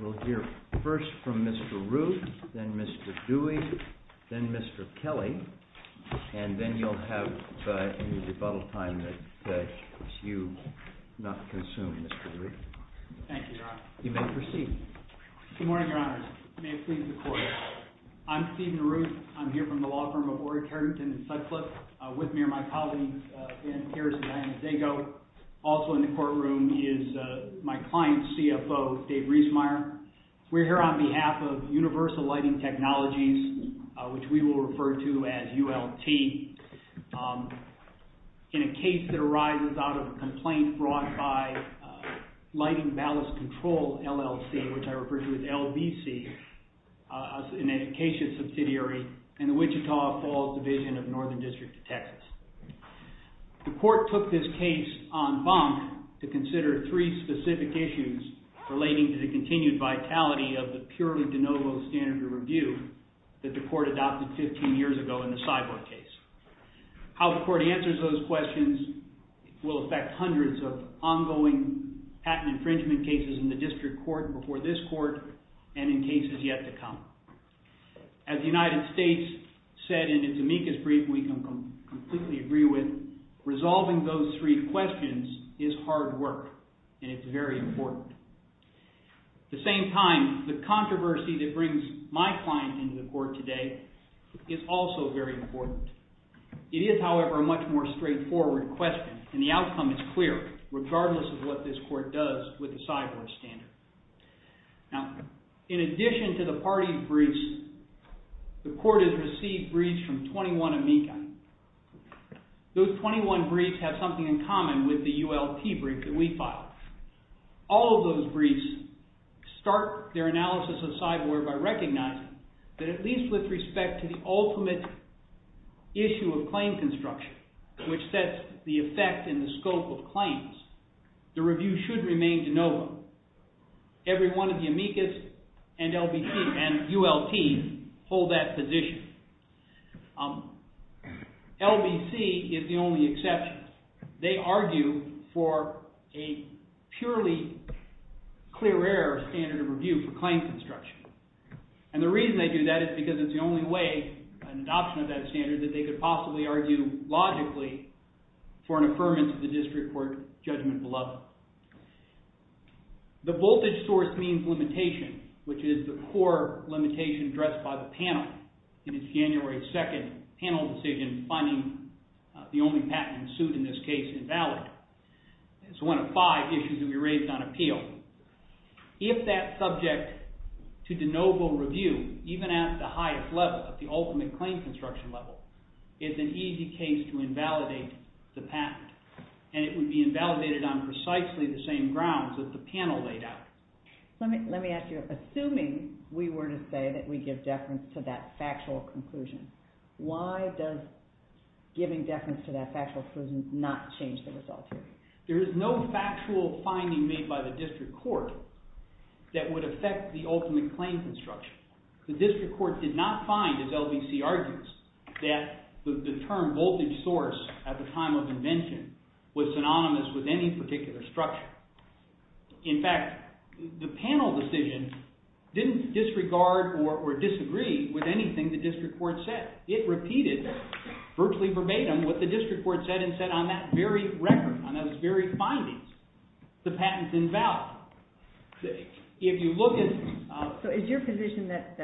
We'll hear first from Mr. Ruth, then Mr. Dewey, then Mr. Kelly, and then you'll have a little bit of time to consume, not consume, Mr. Dewey. Good morning, Your Honors. May it please the Court, I'm Stephen Ruth. I'm here from the law firm of Orrick, Harrington, and Sutcliffe with me are my colleagues, Dan Harris and Danny Dago. Also in the courtroom is my client, CFO Dave Riesmeyer. We're here on behalf of In a case that arises out of a complaint brought by Lighting Ballast Control, LLC, which I refer to as LBC, an Acacia subsidiary in the Wichita Falls Division of Northern District of Texas. The Court took this case en banc to consider three specific issues relating to the continued vitality of the purely de novo standard of review that the Court adopted 15 years ago in the Sidewood case. How the Court answers those questions will affect hundreds of ongoing patent infringement cases in the district court and before this court and in cases yet to come. As the United States said in its amicus brief, and we can completely agree with, resolving those three questions is hard work, and it's very important. At the same time, the controversy that brings my client into the Court today is also very important. It is, however, a much more straightforward question, and the outcome is clear, regardless of what this Court does with the Sidewood standard. Now, in addition to the party briefs, the Court has received briefs from 21 amicus. Those 21 briefs have something in common with the ULT brief that we filed. All of those briefs start their analysis of Sidewood by recognizing that at least with respect to the ultimate issue of claim construction, which sets the effect and the scope of claims, the review should remain de novo. Every one of the amicus and LBC and ULTs hold that position. LBC is the only exception. They argue that for a purely clear error standard of review for claim construction, and the reason they do that is because it's the only way, an adoption of that standard, that they could possibly argue logically for an affirmance of the district court judgment below. The voltage source means limitation, which is the core limitation addressed by the panel in its January 2nd panel decision funding the only patent suit in this case invalid. It's one of five issues that we raised on appeal. If that subject to de novo review, even at the highest level, at the ultimate claim construction level, is an easy case to invalidate the patent, and it would be invalidated on precisely the same grounds that the panel laid out. Let me ask you, assuming we were to say that we give deference to that factual conclusion, why does giving deference to that factual conclusion not change the result? There is no factual finding made by the district court that would affect the ultimate claim construction. The district court did not find, as LBC argues, that the term voltage source at the time of invention was synonymous with any particular structure. In fact, the panel decision didn't disregard or disagree with anything the district court said. It repeated virtually verbatim what the district court said and said on that very record, on those very findings, the patent's invalid. If you look at... So is your position that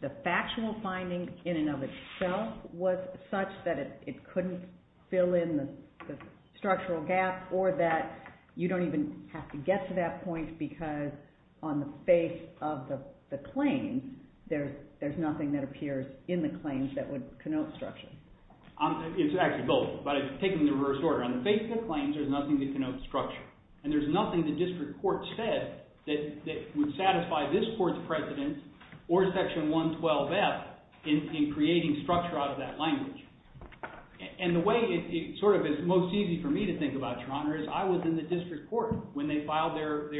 the factional finding in and of itself was such that it couldn't fill in the structural gap, or that you don't even have to get to that point because on the face of the claims, there's nothing that appears in the claims that would connote structure? It's actually both, but I take it in reverse order. On the face of the claims, there's nothing that connotes structure, and there's nothing the district court said that would satisfy this court's precedent or Section 112F in creating structure out of that language. And the way it sort of is most easy for me to think about, Your Honor, is I was in the district court when they filed their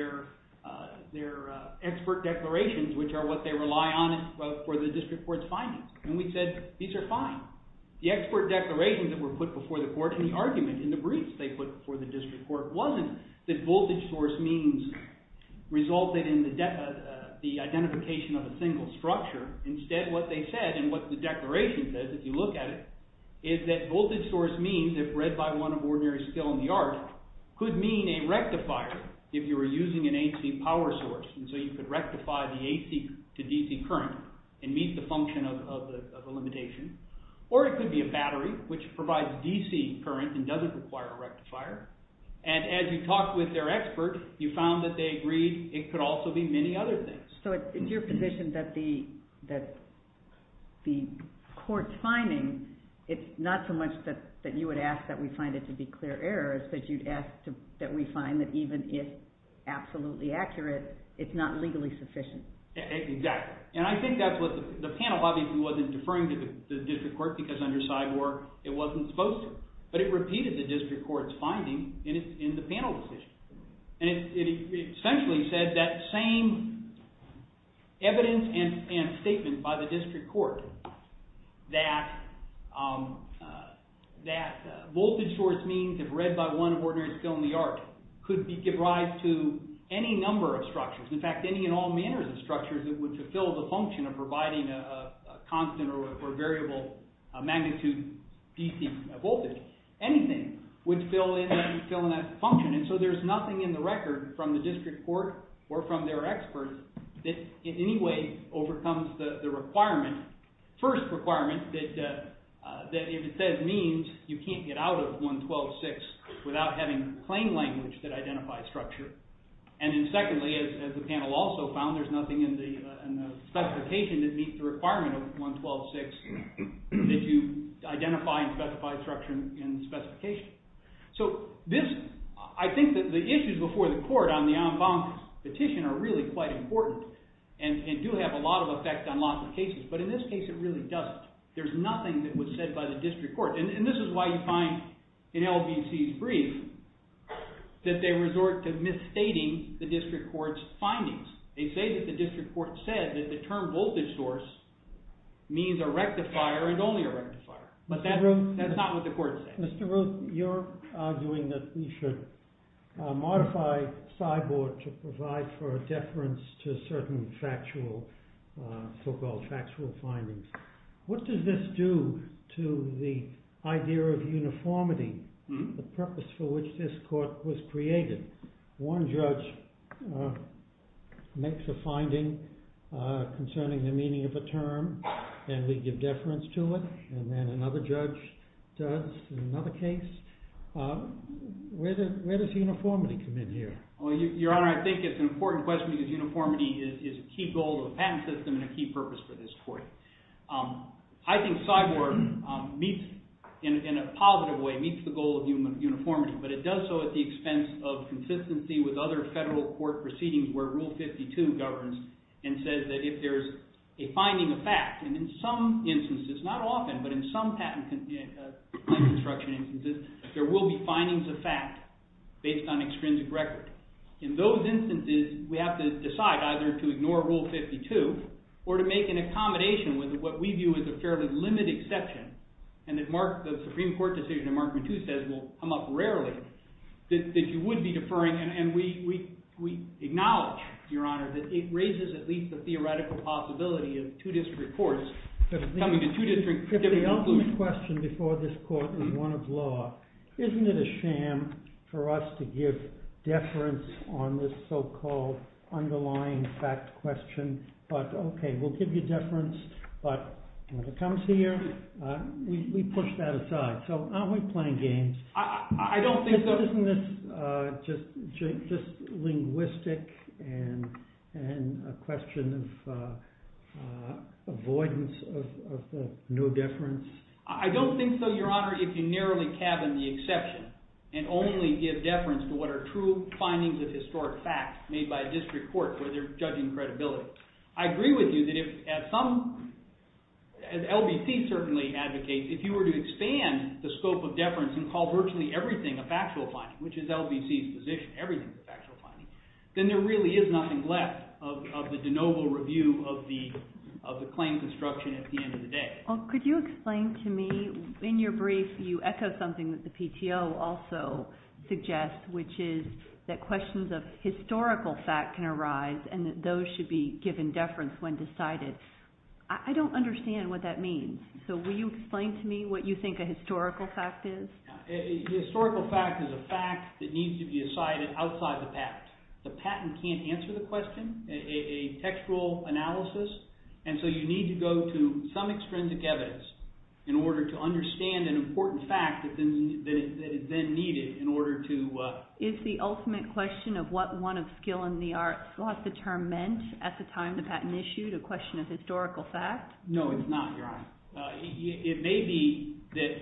expert declarations, which are what they rely on for the district court's findings. And we said, these are fine. The expert declarations were put before the court, and the argument in the briefs they put before the district court wasn't that voltage source means resulted in the identification of a single structure. Instead, what they said, and what the declaration says if you look at it, is that voltage source means, if read by one of ordinary skill in the art, could mean a rectifier if you were using an AC power source. And so you could rectify the AC to DC current and meet the function of the limitation. Or it could be a battery, which provides DC current and doesn't require a rectifier. And as you talked with their expert, you found that they agreed it could also be many other things. So it's your position that the court's findings, it's not so much that you would ask that we find it to be clear errors, but you'd ask that we find that even if absolutely accurate, it's not legally sufficient. Exactly. And I think that's what the panel, obviously, wasn't deferring to the district court because under side work, it wasn't supposed to. But it repeated the district court's finding in the panel decision. And it essentially said that same evidence and statement by the district court that voltage source means, if read by one of ordinary skill in the art, could be derived to any number of structures. In fact, any and all manners of structures that would fulfill the function of providing a constant or variable magnitude DC voltage, anything would fill in that function. And so there's nothing in the record from the district court or from their expert that in any way overcomes the requirement. First requirement that if it says means, you can't get out of 112.6 without having plain language that identifies structure. And then secondly, as the panel also found, there's nothing in the specification that meets the requirement of 112.6 that you identify and specify structure in the specification. So I think that the issues before the court on the en banc petition are really quite important and do have a lot of effect on lots of cases. But in this case, it really doesn't. There's nothing that was said by the district court. And this is why you find in LBC's brief that they resort to misstating the district court's findings. They say that the district court said that the term voltage source means a rectifier and only a rectifier. But that's not what the court said. Mr. Ruth, you're arguing that we should modify FIBOR to provide for a deference to certain so-called factual findings. What does this do to the idea of uniformity, the purpose for which this court was created? One judge makes a finding concerning the meaning of the term, and we give deference to it. And then another judge does in another case. Where does uniformity come in here? Well, Your Honor, I think it's an important question because uniformity is a key goal of the patent system and a key purpose for this court. I think FIBOR meets, in a positive way, meets the goal of uniformity. But it does so at the expense of consistency with other federal court proceedings where Rule 52 governs and says that if there's a finding of fact, and in some instances, not often, but in some patent construction instances, there will be findings of fact based on extrinsic record. In those instances, we have to decide either to ignore Rule 52 or to make an accommodation with what we view as a fairly limited exception and that the Supreme Court decision in Markman II says will come up rarely, that you would be deferring. And we acknowledge, Your Honor, that it raises at least a theoretical possibility of two district courts coming to two district tribunals. My only question before this court is one of law. Isn't it a sham for us to give deference on this so-called underlying fact question? But OK, we'll give you deference, but if it comes here, we push that aside. So aren't we playing games? I don't think so. But isn't this just linguistic and a question of avoidance of no deference? I don't think so, Your Honor, if you narrowly cabin the exception and only give deference to what are true findings of historic fact made by a district court where they're judging credibility. I agree with you that if, as LBC certainly advocates, if you were to expand the scope of deference and call virtually everything a factual finding, which is LBC's position, everything's a factual finding, then there really is nothing left of the de novo review of the claims instruction at the end of the day. Well, could you explain to me, in your brief, you echoed something that the PTO also suggests, which is that questions of historical fact can arise and that those should be given deference when decided. I don't understand what that means. So will you explain to me what you mean by historical fact is? Historical fact is a fact that needs to be decided outside of fact. The patent can't answer the question, a textual analysis, and so you need to go to some extrinsic evidence in order to understand an important fact that is then needed in order to... Is the ultimate question of what one of skill in the arts thought the term meant at the time the patent issued a question of historical fact? No, it's not, Your Honor. It may be that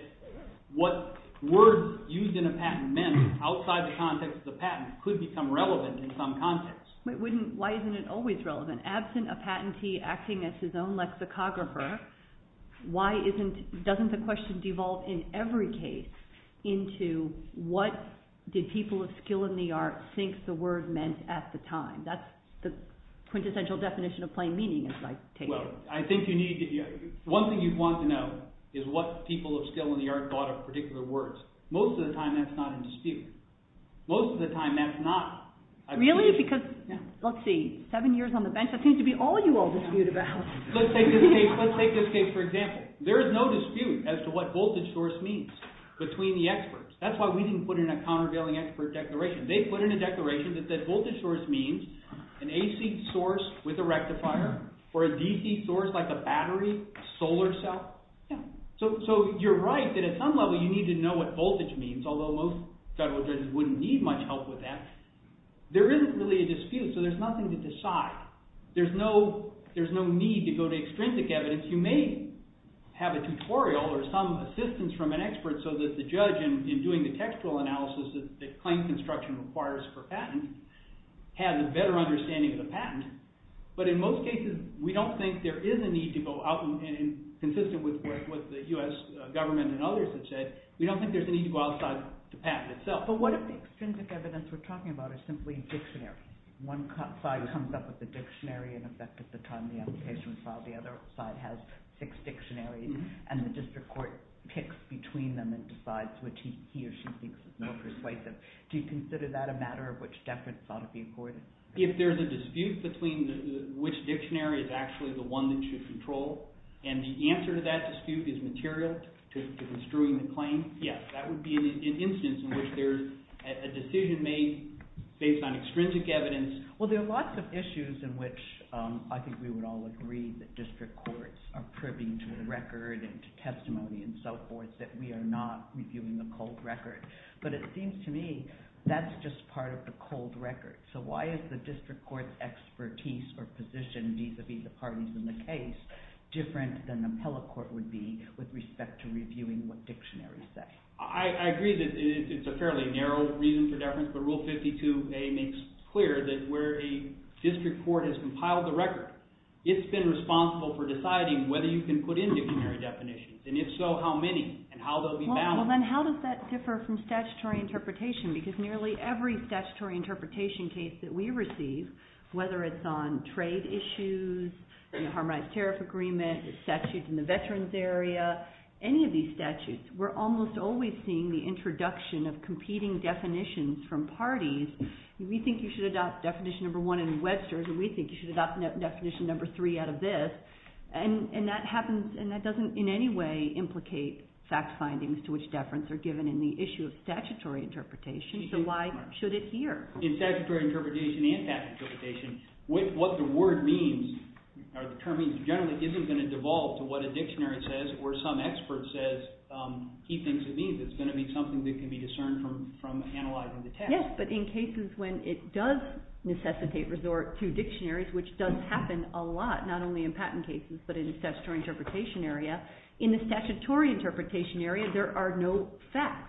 what words used in a patent meant outside the context of the patent could become relevant in some context. But why isn't it always relevant? Absent a patentee acting as his own lexicographer, why doesn't the question devolve in every case into what did people of skill in the arts think the word meant at the time? That's the quintessential definition of plain meaning as I take it. Well, I think you need to get... One thing you'd want to know is what people of skill in the arts thought of a particular word. Most of the time that's not in dispute. Most of the time that's not. Really? Because, let's see, seven years on the bench, that seems to be all you all dispute about. Let's take this case for example. There is no dispute as to what voltage source means between the experts. That's why we didn't put in a countervailing expert declaration. They put in a declaration that voltage source means an AC source with a rectifier for a DC source like a battery, solar cell. You're right that at some level you need to know what voltage means, although most federal judges wouldn't need much help with that. There isn't really a dispute, so there's nothing to decide. There's no need to go to extrinsic evidence. You may have a tutorial or some assistance from an expert so that the judge in doing the textual analysis that claim construction requires for patents has a better understanding of the patent. But in most cases, we don't think there is a need to go out and, consistent with what the U.S. government and others have said, we don't think there's a need to go outside the patent itself. But what extrinsic evidence we're talking about is simply a dictionary. One side comes up with a dictionary and in fact at the time of the application file the other side has six dictionaries and the district court picks between them and decides which he or she thinks is more persuasive. Do you consider that a matter of which deference ought to be avoided? If there's a dispute between which dictionary is actually the one that you should control and the answer to that dispute is material to construing the claim, yes, that would be an instance in which there's a decision made based on extrinsic evidence. Well, there are lots of issues in which I think we would all agree that district courts are proving to the record and to testimony and so forth that we are not reviewing the uphold record. So why is the district court's expertise or position vis-a-vis the parties in the case different than the appellate court would be with respect to reviewing what dictionaries say? I agree that it's a fairly narrow reason for deference, but Rule 52a makes it clear that where the district court has compiled the record, it's been responsible for deciding whether you can put in dictionary definitions and it shows how many and how they'll be balanced. Well, then how does that differ from statutory interpretation? Because nearly every statutory interpretation case that we receive, whether it's on trade issues, harmonized tariff agreement, statutes in the veterans area, any of these statutes, we're almost always seeing the introduction of competing definitions from parties. We think you should adopt definition number one in Webster's and we think you should adopt definition number three out of this and that happens and that doesn't in any way implicate fact findings to which deference are given in the issue of statutory interpretation, so why should it here? In statutory interpretation and patent interpretation, what the word means or the term means generally isn't going to devolve to what a dictionary says or some expert says he thinks it means. It's going to be something that can be discerned from analyzing the text. Yes, but in cases when it does necessitate resort to dictionaries, which does happen a lot, not only in patent cases, but in the statutory interpretation area, in the statutory interpretation area, there are no facts.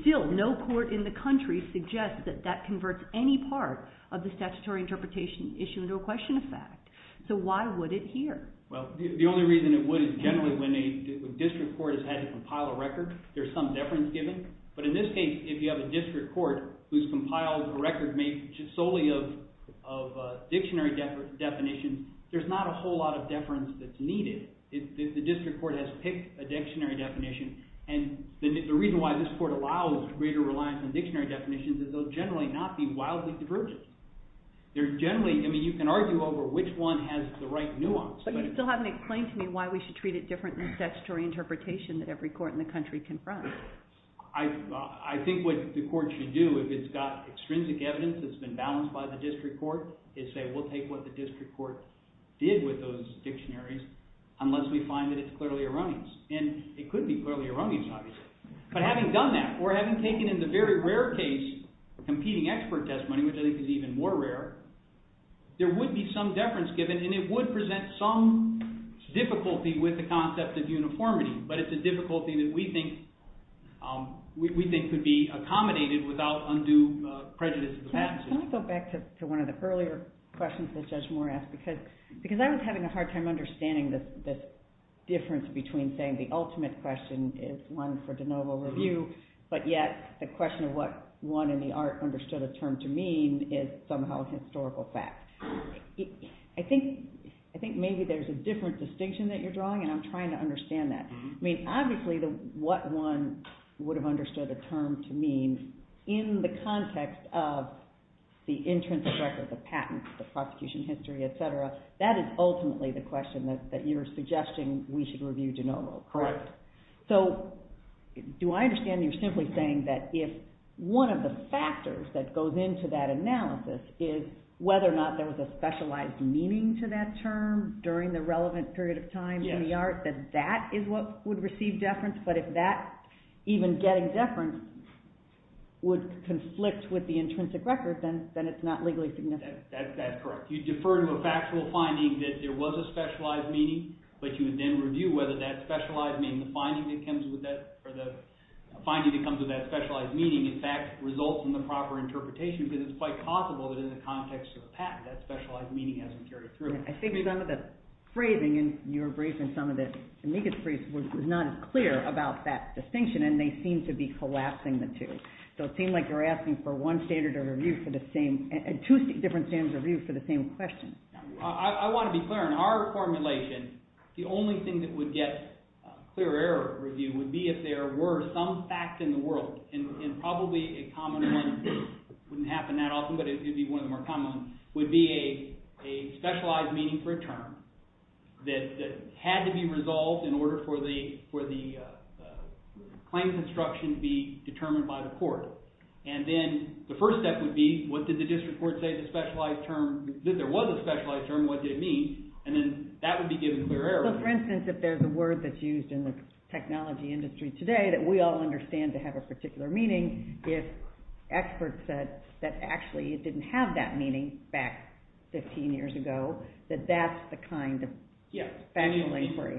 Still, no court in the country suggests that that converts any part of the statutory interpretation issue into a question of fact, so why would it here? Well, the only reason it would is generally when a district court has had to compile a record, there's some deference given, but in this case, if you have a district court who's compiled a record made solely of dictionary definitions, there's not a whole lot of deference that's needed. If the district court has picked a dictionary definition, and the reason why this court allows greater reliance on dictionary definitions is they'll generally not be wildly divergent. They're generally, I mean, you can argue over which one has the right nuance. But you still haven't explained to me why we should treat it differently in statutory interpretation that every court in the country confirms. I think what the court should do, if it's got extrinsic evidence that's been balanced by the district court, is say, we'll take what the district court did with those dictionaries unless we find that it's clearly erroneous. And it could be clearly erroneous, obviously. But having done that, or having taken into very rare case competing expert testimony, which I think is even more rare, there would be some deference given, and it would present some difficulty with the concept of uniformity. But it's a difficulty that we think could be accommodated without undue prejudice of the patent system. Can I go back to one of the earlier questions that Judge Moore asked? Because I was having a hard time understanding the difference between saying the ultimate question is one for de novo review, but yet the question of what one in the art understood a term to mean is somehow a historical fact. I think maybe there's a different distinction that you're drawing, and I'm trying to understand that. I mean, obviously what one would have understood a term to mean in the context of the intrinsic record of patents, the prosecution history, et cetera, that is ultimately the question that you're suggesting we should review de novo. Correct. So do I understand you simply saying that if one of the factors that goes into that analysis is whether or not there was a specialized meaning to that term during the relevant period of time in the art, that that is what would receive deference? But if that, even getting deference, would conflict with the intrinsic record, then it's not legally significant. That's correct. You defer to a factual finding that there was a specialized meaning, but you would then review whether that specialized meaning, the finding that comes with that specialized meaning in fact results in the proper interpretation, because it's quite possible that in the context of a patent, that specialized meaning hasn't carried through. I think some of the phrasing in your brief and some of the amicus briefs was not clear about that distinction, and they seem to be collapsing the two. So it seems like you're asking for one standard of review for the same, two different standards of review for the same question. I want to be clear. In our formulation, the only thing that would get clear error review would be if there were some facts in the world, and probably a common one wouldn't happen that often, but it would be one of the more common, would be a specialized meaning for a term that had to be resolved in order for the claims instruction to be determined by the court. And then the first step would be, what did the district court say the specialized term, that there was a specialized term, what did it mean? And then that would be given clear error. Well, for instance, if there's a word that's used in the technology industry today that we all understand to have a particular meaning, if experts said that actually it didn't have that meaning back 15 years ago, that that's the kind that's factually free.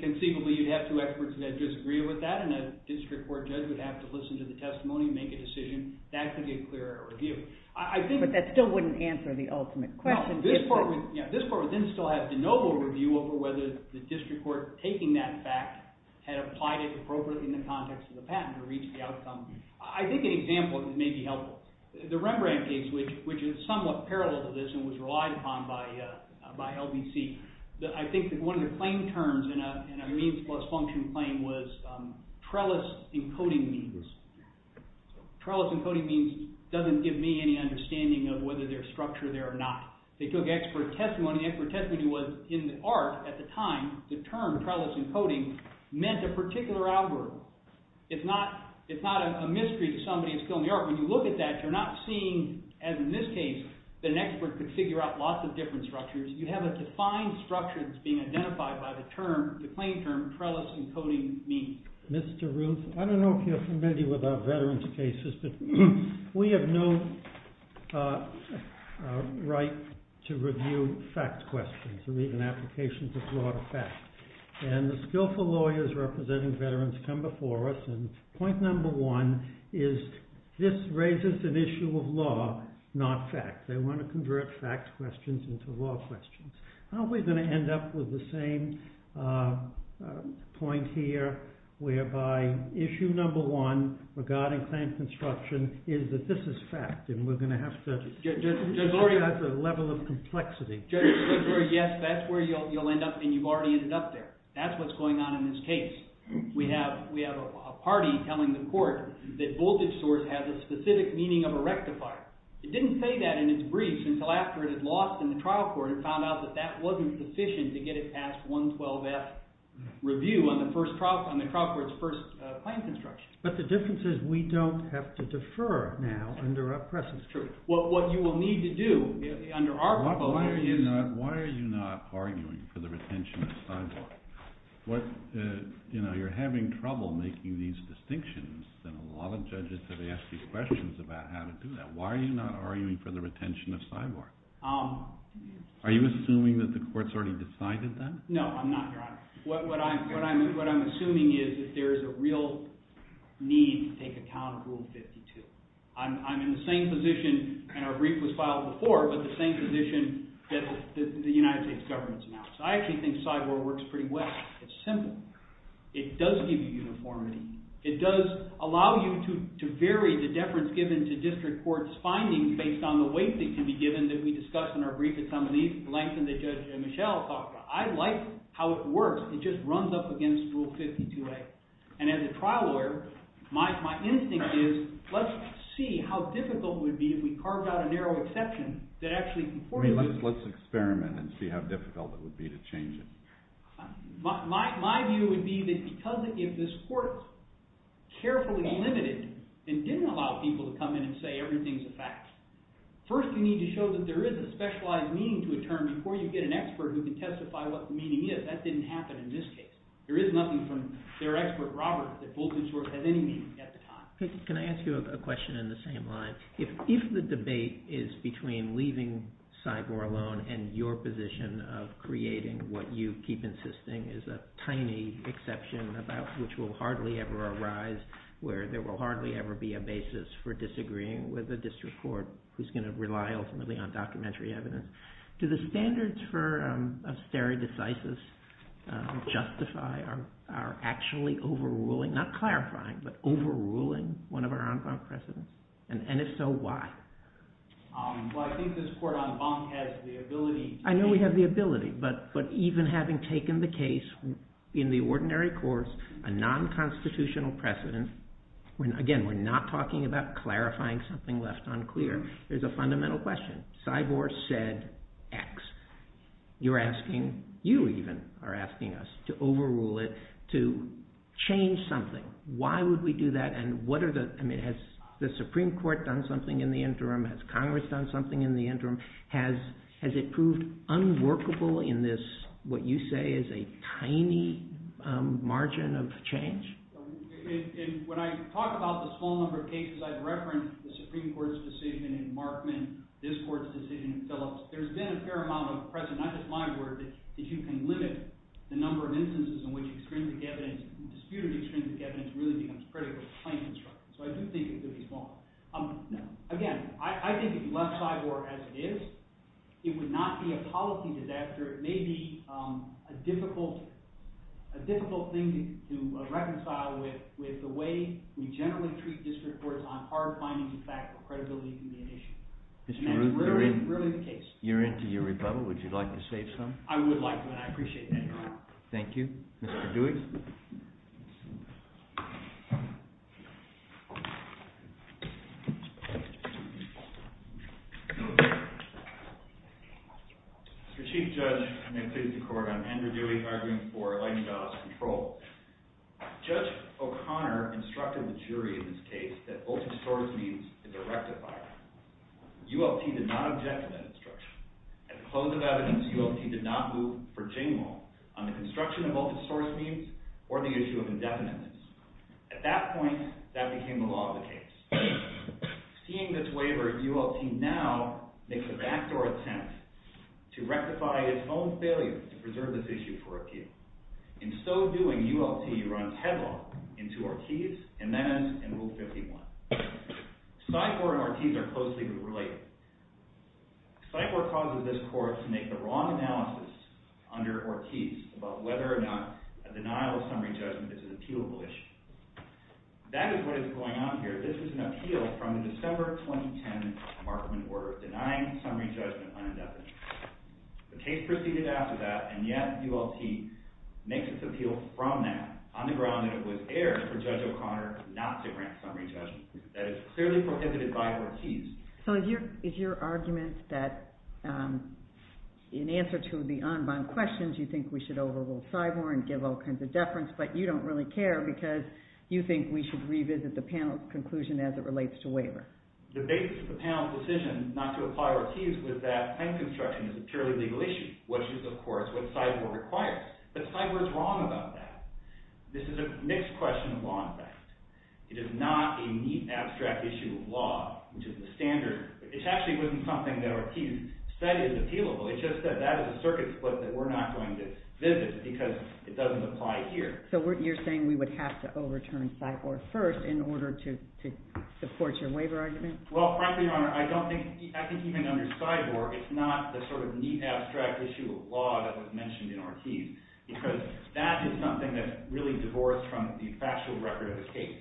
Conceivably, you'd have two experts that disagree with that, and a district court judge would have to listen to the testimony and make a decision. That could be a clear error review. But that still wouldn't answer the ultimate question. This part of it still has no overview over whether the district court taking that fact had applied it appropriately in the context of the patent to reach the outcome. I think an example that may be helpful, the Rembrandt case, which is somewhat parallel to this and was relied upon by LBC. I think one of the claim terms in a means plus function claim was trellis encoding means. Trellis encoding means doesn't give me any understanding of whether they're structured there or not. They took expert testimony. Expert testimony was in art at the time. The term trellis encoding meant a particular algorithm. It's not a mystery to somebody who's going to the art. When you look at that, you're not seeing, as in this case, that an expert could figure out lots of different structures. You have a defined structure that's being identified by the term, the claim term trellis encoding means. Mr. Ruth, I don't know if you're familiar with our veterans cases, but we have no right to review fact questions and even applications of law to fact. And the skillful lawyers representing veterans come before us, and point number one is this raises an issue of law, not fact. They want to convert fact questions into law questions. How are we going to end up with the same point here, whereby issue number one regarding claim construction is that this is fact, and we're going to have to... There's already a level of complexity. Yes, that's where you'll end up, and you've already ended up there. That's what's going on in this case. We have a party telling the court that voltage source has a specific meaning of a rectifier. It didn't say that in its briefs until after it was lost in the trial court and found out that that wasn't sufficient to get it past 112F review on the trial court's first claim construction. But the difference is we don't have to defer now under a precedent. Sure. What you will need to do under our... Why are you not arguing for the retention of five years? You're having trouble making these distinctions, and a lot of judges have asked you questions about how to do that. Why are you not arguing for the retention of five years? Are you assuming that the court's already decided that? No, I'm not. What I'm assuming is that there's a real need to take account of Rule 52. I'm in the same position, and our brief was filed before, but the same position that the United States government's in. I actually think five-year works pretty well. It's simple. It does give you uniformity. It does allow you to vary the deference given to district court's findings based on the weight that can be given that we discussed in our brief, the length that Judge Michel talked about. I like how it works. It just runs up against Rule 52A. And as a trial lawyer, my instinct is let's see how difficult it would be if we carved out a narrow exception that actually... Let's experiment and see how difficult it would be to change it. My view would be that because if this court carefully limited and didn't allow people to come in and say everything's a fact, first we need to show that there is a specialized meaning to a term before you get an expert who can testify what the meaning is. That didn't happen in this case. There is nothing from their expert, Robert, at the time. Can I ask you a question in the same line? If the debate is between leaving Cyborg alone and your position of creating what you keep insisting is a tiny exception about which will hardly ever arise, where there will hardly ever be a basis for disagreeing with a district court who's going to rely ultimately on documentary evidence, do the standards for stare decisis justify our actually overruling, not clarifying, but overruling one of our en banc precedents? And if so, why? I think this court en banc has the ability... I know we have the ability, but even having taken the case in the ordinary course, a non-constitutional precedent, again, we're not talking about clarifying something left unclear. There's a fundamental question. Cyborg said X. You're asking... You even are asking us to overrule it, to change something. Why would we do that? And what are the... I mean, has the Supreme Court done something in the interim? Has Congress done something in the interim? Has it proved unworkable in this, what you say is a tiny margin of change? When I talk about the small number of cases I've referenced, the Supreme Court's decision in Markman, this court's decision itself, there's been a fair amount of precedent. I just might add that if you can limit the number of instances in which extrinsic evidence, disputed extrinsic evidence, really becomes critical to claim construction. So I do think it's really small. Again, I think if you left Cyborg as it is, it would not be a policy disaster. It may be a difficult thing to reconcile with the way we generally treat district courts on hard-finding the fact of credibility being an issue. And that's really the case. You're into your rebuttal. Would you like to say something? I would like that. I appreciate that. Thank you. Mr. Dewey? Mr. Chief Judge, and may it please the Court, I'm Andrew Dewey, arguing for Eileen Dowell's control. Judge O'Connor instructed the jury in this case that multisource needs is a rectifier. ULT did not object to that instruction. At the close of evidence, ULT did not move for Jane Wall on the construction of multisource needs or the issue of indefiniteness. At that point, that became the law of the case. Seeing this waiver, ULT now makes a backdoor attempt to rectify its own failure to present this issue for appeal. In so doing, ULT runs headlong into Ortiz and then into Rule 51. Cycler and Ortiz are closely related. Cycler causes this Court to make the wrong analysis under Ortiz about whether or not a denial of summary judgment is an appealable issue. That is what is going on here. This is an appeal from the December 2010 Markman order, denying summary judgment unadopted. The case proceeded after that, and yet ULT makes its appeal from that on the ground that it was there for Judge O'Connor not to grant summary judgment. That is clearly prohibited by Ortiz. So is your argument that in answer to the en banc questions, you think we should overrule Cyborg and give all kinds of deference, but you don't really care because you think we should revisit the panel's conclusion as it relates to waivers? The basis of the panel's decision not to apply Ortiz was that pen construction is a purely legal issue, which is of course what Cyborg requires. But Cyborg's wrong about that. This is a mixed question of law and fact. It is not a neat, abstract issue of law, which is the standard. It actually wasn't something that Ortiz said is appealable. He just said that is a circuit that we're not going to visit because it doesn't apply here. So you're saying we would have to overturn Cyborg first in order to support your waiver argument? Well, frankly, Your Honor, I think even under Cyborg, it's not the sort of neat, abstract issue of law that was mentioned in Ortiz because that is something that's really divorced from the factual record of the case.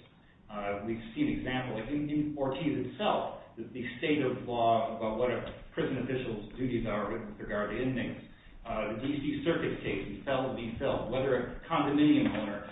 We've seen examples. I think in Ortiz itself, the state of law about what a prison official's duties are with regard to inmates, the circuit case, he fell to be felled, whether a condominium owner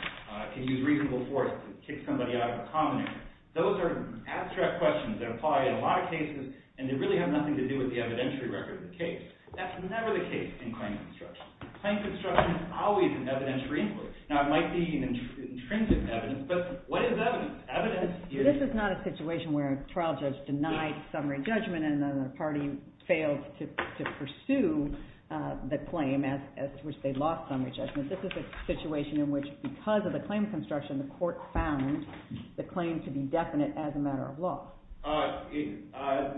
can use reasonable force to kick somebody out of a condominium. Those are abstract questions that apply in a lot of cases, and they really have nothing to do with the evidentiary record of the case. That's never the case in claim construction. Claim construction is always an evidentiary inquiry. Now, it might be intrinsic evidence, but what is evidence? Evidence is— This is not a situation where a trial judge denied summary judgment and the party failed to pursue the claim, which they lost summary judgment. This is a situation in which, because of the claim construction, the court found the claim to be definite as a matter of law.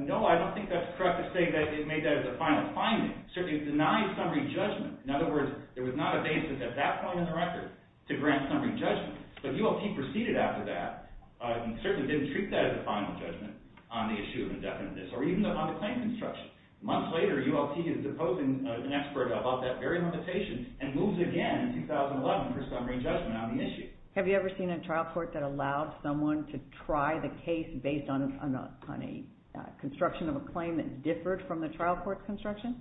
No, I don't think that's correct in saying that they made that as a final finding. Certainly, it denied summary judgment. In other words, there was not a basis at that point in the record to grant summary judgment, but ULP proceeded after that and certainly didn't treat that as a final judgment on the issue of indefinite disorder, even on the claim construction. Months later, ULP did propose an expert about that very conversation and moved again in 2011 for summary judgment on the issue. Have you ever seen a trial court that allowed someone to try the case based on a construction of a claim that differed from the trial court's construction?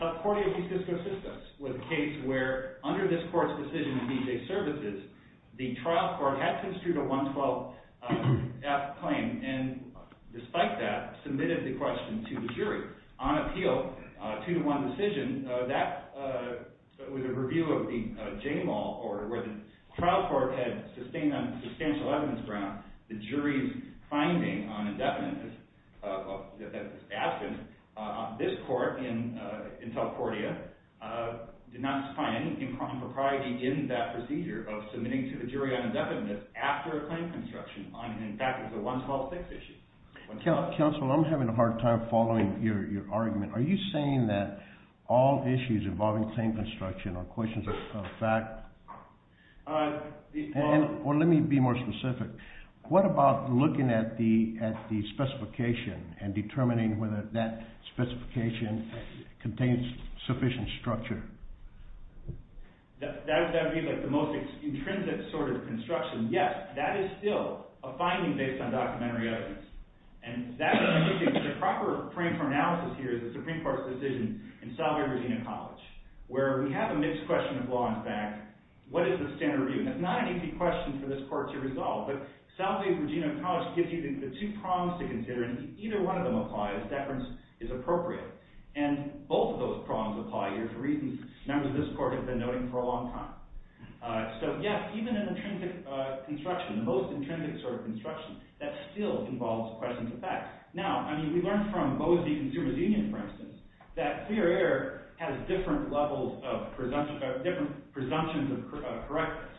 Top 40 of these fiscal systems was a case where, under this court's decision to be safe services, the trial court had to distribute a 112-F claim and, despite that, submitted the question to the jury. On appeal, a two-to-one decision, that was a review of the Jamal Court of Arbitration. The trial court had sustained, on substantial evidence grounds, the jury's finding on indefiniteness. Asking this court in California, did not find anything proprietary in that procedure of submitting to a jury on indefiniteness after a claim construction finding. In fact, it was a one-to-all fix issue. Counsel, I'm having a hard time following your argument. Are you saying that all issues involving claim construction are questions of fact? Let me be more specific. What about looking at the specification and determining whether that specification contains sufficient structure? That would be the most intrinsic sort of construction. Yes, that is still a finding based on documentary evidence. The proper frame for analysis here is the Supreme Court's decision in Southway of Virginia College, where we have a mixed question of law and fact. What is the standard review? It's not an easy question for this court to resolve, but Southway of Virginia College gives you the two prongs to consider, and if either one of them apply, a deference is appropriate. Both of those prongs apply here for reasons members of this court have been noting for a long time. So yes, even an intrinsic construction, the most intrinsic sort of construction, that still involves questions of fact. Now, we learned from Bose v. Consumer's Union, for instance, that clear air has different levels of presumptions of correctness.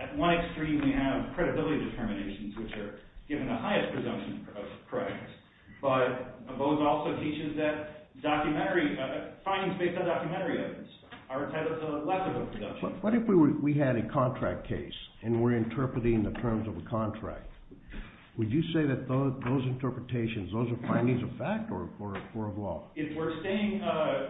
At one extreme, we have credibility determinations, which are given the highest presumptions of correctness. But Bose also teaches that documentary evidence, findings based on documentary evidence, are What if we had a contract case, and we're interpreting the terms of a contract? Would you say that those interpretations, those are findings of fact, or of law? If we're staying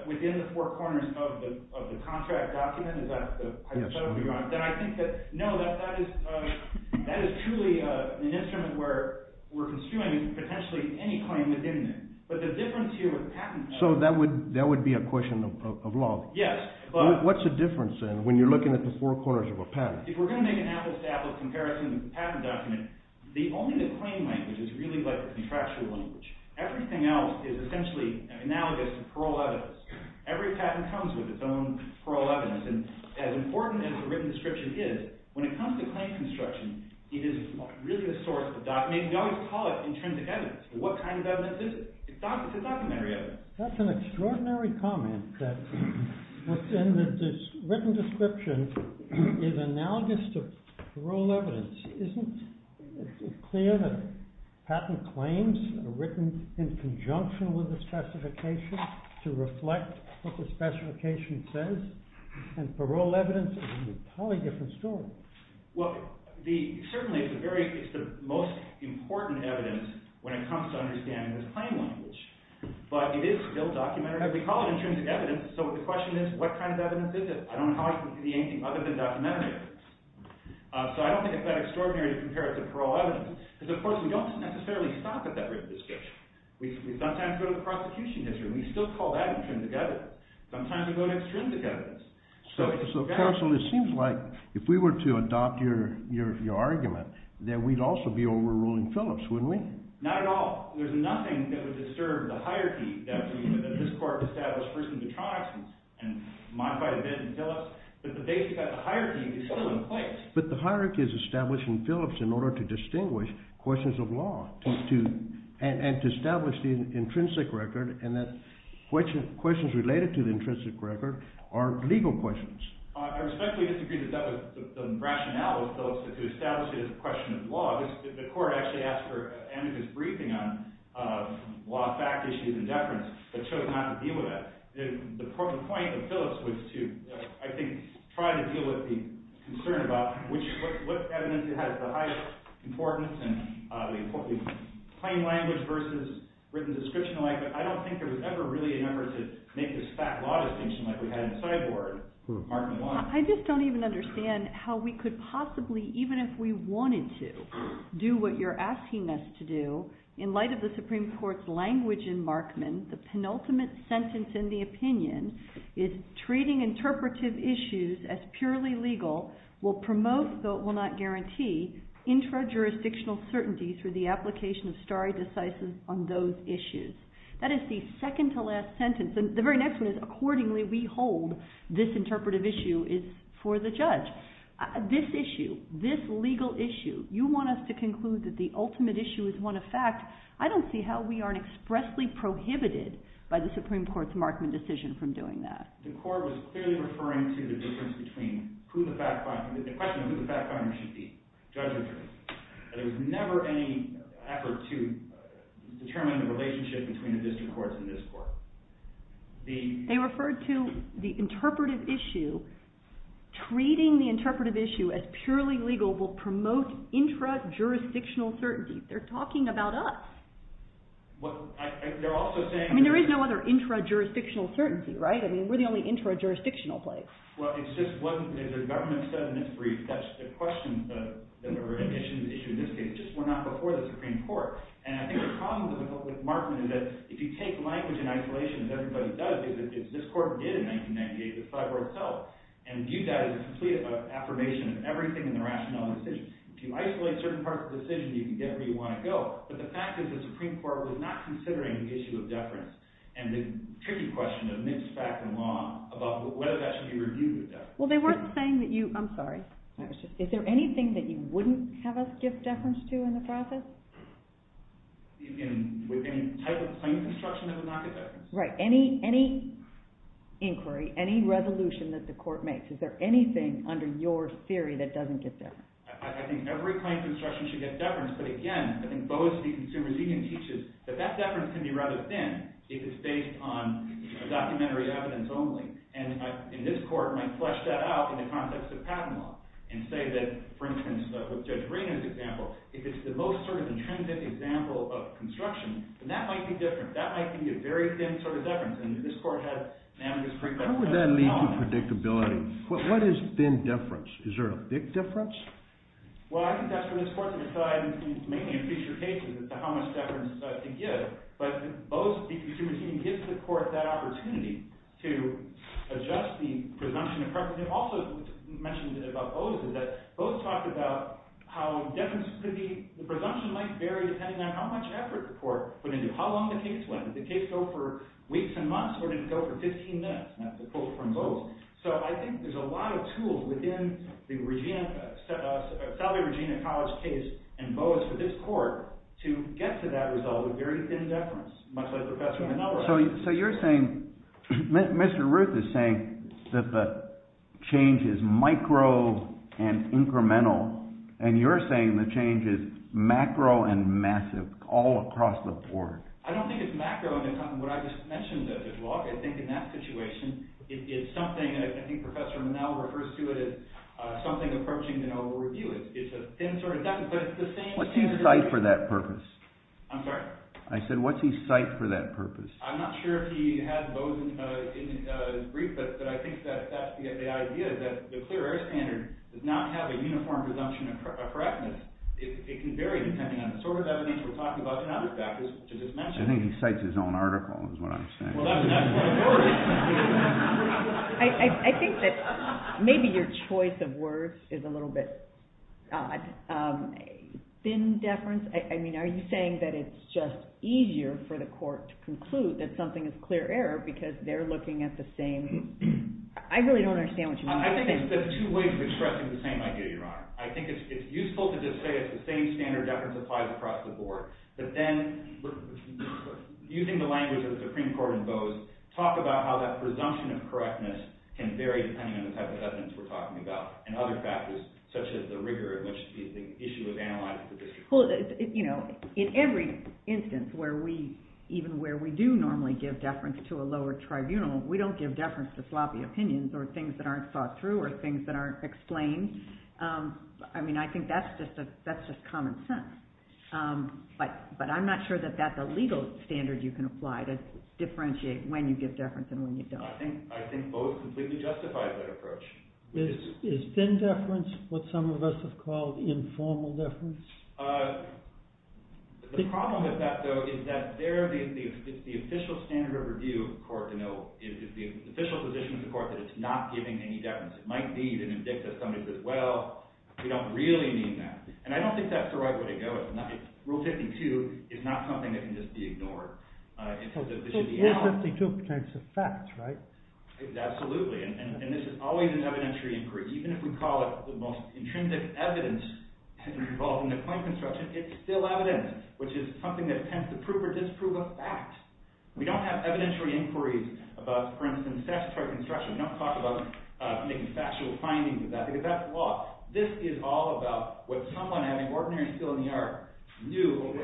within the four corners of the contract document, is that what you're talking about? Yes. Then I think that, no, that is truly an instrument where we're consuming potentially any claim within it. But the difference here is patent. So that would be a question of law? Yes. What's the difference, then, when you're looking at the four corners of a patent? If we're going to make an apples-to-apples comparison of the patent document, the only claim language is really the contractual language. Everything else is essentially analogous to plural evidence. Every patent comes with its own plural evidence. And as important as the written description is, when it comes to claim construction, it is really the source of the document. We always call it intrinsic evidence. What kind of evidence is it? It's documentary evidence. That's an extraordinary comment that within the written description is analogous to plural evidence. Isn't it clear that patent claims are written in conjunction with the specification to reflect what the specification says? And plural evidence is an entirely different story. Well, certainly it's the most important evidence when it comes to understanding the claim language. But it is still documentary evidence. We call it intrinsic evidence. So the question is, what kind of evidence is it? I don't know how it can be anything other than documentary evidence. So I don't think it's that extraordinary to compare it to plural evidence. And of course, we don't necessarily stop at that written description. We sometimes go to the prosecution history, and we still call that intrinsic evidence. Sometimes we go to extrinsic evidence. So counsel, it seems like if we were to adopt your argument, then we'd also be overruling Phillips, wouldn't we? Not at all. There's nothing that would disturb the hierarchy that this court has established, first and foremost, and modified a bit in Phillips, that the hierarchy is still in place. But the hierarchy is established in Phillips in order to distinguish questions of law and to establish the intrinsic record and that questions related to the intrinsic record are legal questions. I respectfully disagree that that was the rationale of Phillips, to establish it as a question of law. The court actually asked for an amicus briefing on law, fact, issue, and deference that showed how to deal with that. The point of Phillips was to, I think, try to deal with the concern about which evidence has the highest importance and the importance of plain language versus written description alike. I don't think there was ever really an effort to make this fact law distinction like we had in the sideboard. I just don't even understand how we could possibly, even if we wanted to, do what you're asking us to do. In light of the Supreme Court's language in Markman, the penultimate sentence in the opinion is, treating interpretive issues as purely legal will promote, though it will not guarantee, intra-jurisdictional certainty through the application of stare decisis on those issues. That is the second-to-last sentence. The very next one is, accordingly, we hold this interpretive issue is for the judge. This issue, this legal issue, you want us to conclude that the ultimate issue is one of fact. I don't see how we aren't expressly prohibited by the Supreme Court's Markman decision from doing that. The court was clearly referring to the difference between who the fact finder, the question of who the fact finder should be, judge or jury. There was never any effort to determine the relationship between the district courts and this court. They referred to the interpretive issue. Treating the interpretive issue as purely legal will promote intra-jurisdictional certainty. They're talking about us. There is no other intra-jurisdictional certainty, right? We're the only intra-jurisdictional place. Well, it's just one, the government sentence brief, that's the question that we're going to issue. It just went out before the Supreme Court. And I think the problem with Markman is that if you take language in isolation, as everybody does, as this court did in 1998, the sidebar itself, and view that as a complete affirmation of everything in rationality, if you isolate certain parts of the decision, you can get where you want to go. But the fact is the Supreme Court was not considering the issue of deference. And the tricky question that mixed back and forth about whether that should be reviewed is that. Well, they weren't saying that you, I'm sorry, is there anything that you wouldn't have us get deference to in the process? Right. Any inquiry, any resolution that the court makes, is there anything under your theory that doesn't get deference? I think every kind of instruction should get deference. But again, I think both the consumers even teaches that that deference can be rather thin if it's based on documentary evidence only. And this court might flesh that out in the context of Kavanaugh and say that, for instance, with Judge Brady's example, if it's the most sort of intrinsic example of construction, then that might be different. That might be a very thin sort of deference. And this court has unanimous prejudice. How would that lead to predictability? What is thin deference? Is there a thick deference? Well, I think that's what this court decides, mainly in future cases, as to how much deference to give. But both the consumers even give the court that opportunity to adjust the presumption of preference. I think also, as you mentioned about Boas, is that Boas talked about how deference could be, the presumption might vary depending on how much effort the court put into it. How long the case went? Did the case go for weeks and months? Or did it go for 15 minutes? That's a quote from Boas. So I think there's a lot of tools within the Salve Regina College case and Boas for this court to get to that result of very thin deference, much like Professor Kavanaugh was saying. Mr. Ruth is saying that the change is micro and incremental. And you're saying the change is macro and massive, all across the board. I don't think it's macro. What I just mentioned, as well, I think in that situation, it's something, and I think Professor Kavanaugh refers to it as something approaching an overview. It's a thin sort of deference. What's he cite for that purpose? I'm sorry? I said, what's he cite for that purpose? I'm not sure if he has those in the brief, but I think that's the idea, that the clear air standard does not have a uniform presumption of correctness. It can vary depending on the sort of evidence we're talking about and other factors, which I just mentioned. I think he cites his own article, is what I'm saying. I think that maybe your choice of words is a little bit odd. Thin deference? I mean, are you saying that it's just easier for the court to conclude that something is clear error because they're looking at the same? I really don't understand what you're saying. I think there's two ways of expressing the same idea, Your Honor. I think it's useful to just say it's the same standard deference applies across the board. But then, using the language of the Supreme Court in Bose, talk about how that presumption of correctness can vary depending on the type of evidence we're talking about and other Well, you know, in every instance, even where we do normally give deference to a lower tribunal, we don't give deference to sloppy opinions or things that aren't thought through or things that aren't explained. I mean, I think that's just common sense. But I'm not sure that that's a legal standard you can apply to differentiate when you give deference and when you don't. I think Bose completely justified that approach. Is thin deference what some of us have called informal deference? The problem with that, though, is that there is the official standard of review of the court. It's the official position of the court that it's not giving any deference. It might be even indicative of something that says, well, we don't really mean that. And I don't think that's the right way to go. It's not. Rule 52 is not something that can just be ignored. It is 52 points of fact, right? Absolutely. And this is always an evidentiary inquiry. Even if we call it the most intrinsic evidence involving the point construction, it's still evident, which is something that tends to prove or disprove a fact. We don't have evidentiary inquiries about, for instance, statutory construction. We don't talk about making factual findings about it. That's law. This is all about what someone having ordinary skill in the art knew,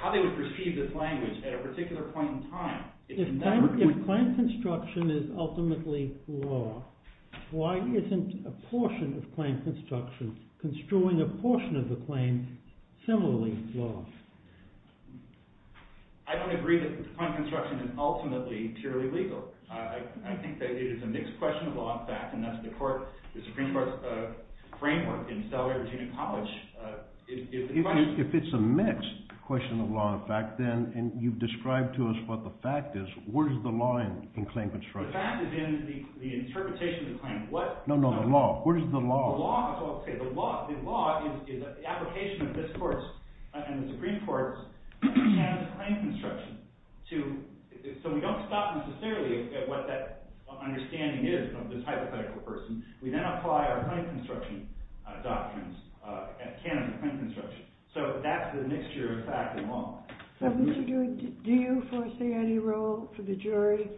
how they would perceive this language at a particular point in time. If point construction is ultimately law, why isn't a portion of point construction, construing a portion of the claim, similarly law? I don't agree that point construction is ultimately purely legal. I think that it is a mixed question of law and fact, and that's before the Supreme Court framework in Stellar didn't publish. If it's a mixed question of law and fact, then, and you've described to us what the fact is, where's the law in claim construction? The fact is in the interpretation of the claim. No, no, the law. Where's the law? The law is what I was going to say. The law is an application of the Supreme Court's understanding of point construction. So we don't stop necessarily at what that understanding is of this hypothetical person. We then apply our point construction doctrines at the canon of point construction. So that's the mixture of fact and law. Do you foresee any role for the jury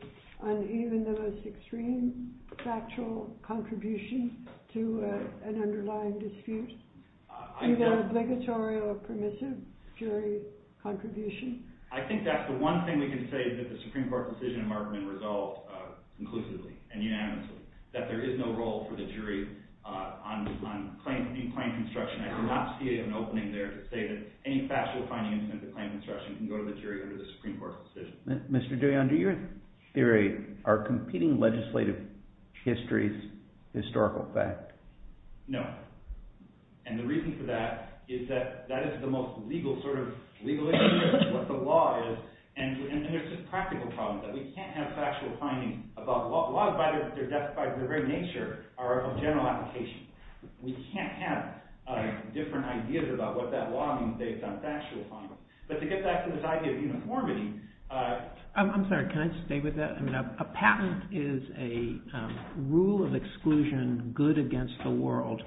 on even the most extreme factual contribution to an underlying dispute? Is that an obligatory or permissive jury contribution? I think that's the one thing we can say that the Supreme Court decision marked in result conclusively and unanimously, that there is no role for the jury on claim construction. I do not see it as an opening there to say that any factual finding in terms of claim construction can go to the jury or to the Supreme Court's decision. Mr. De Leon, do your theory are competing legislative histories historical fact? No. And the reason for that is that that is the most legal sort of legal issue of what the general application. We can't have different ideas about what that law is based on factual findings. But to get back to this idea of uniformity... I'm sorry, can I just stay with that? A patent is a rule of exclusion good against the world,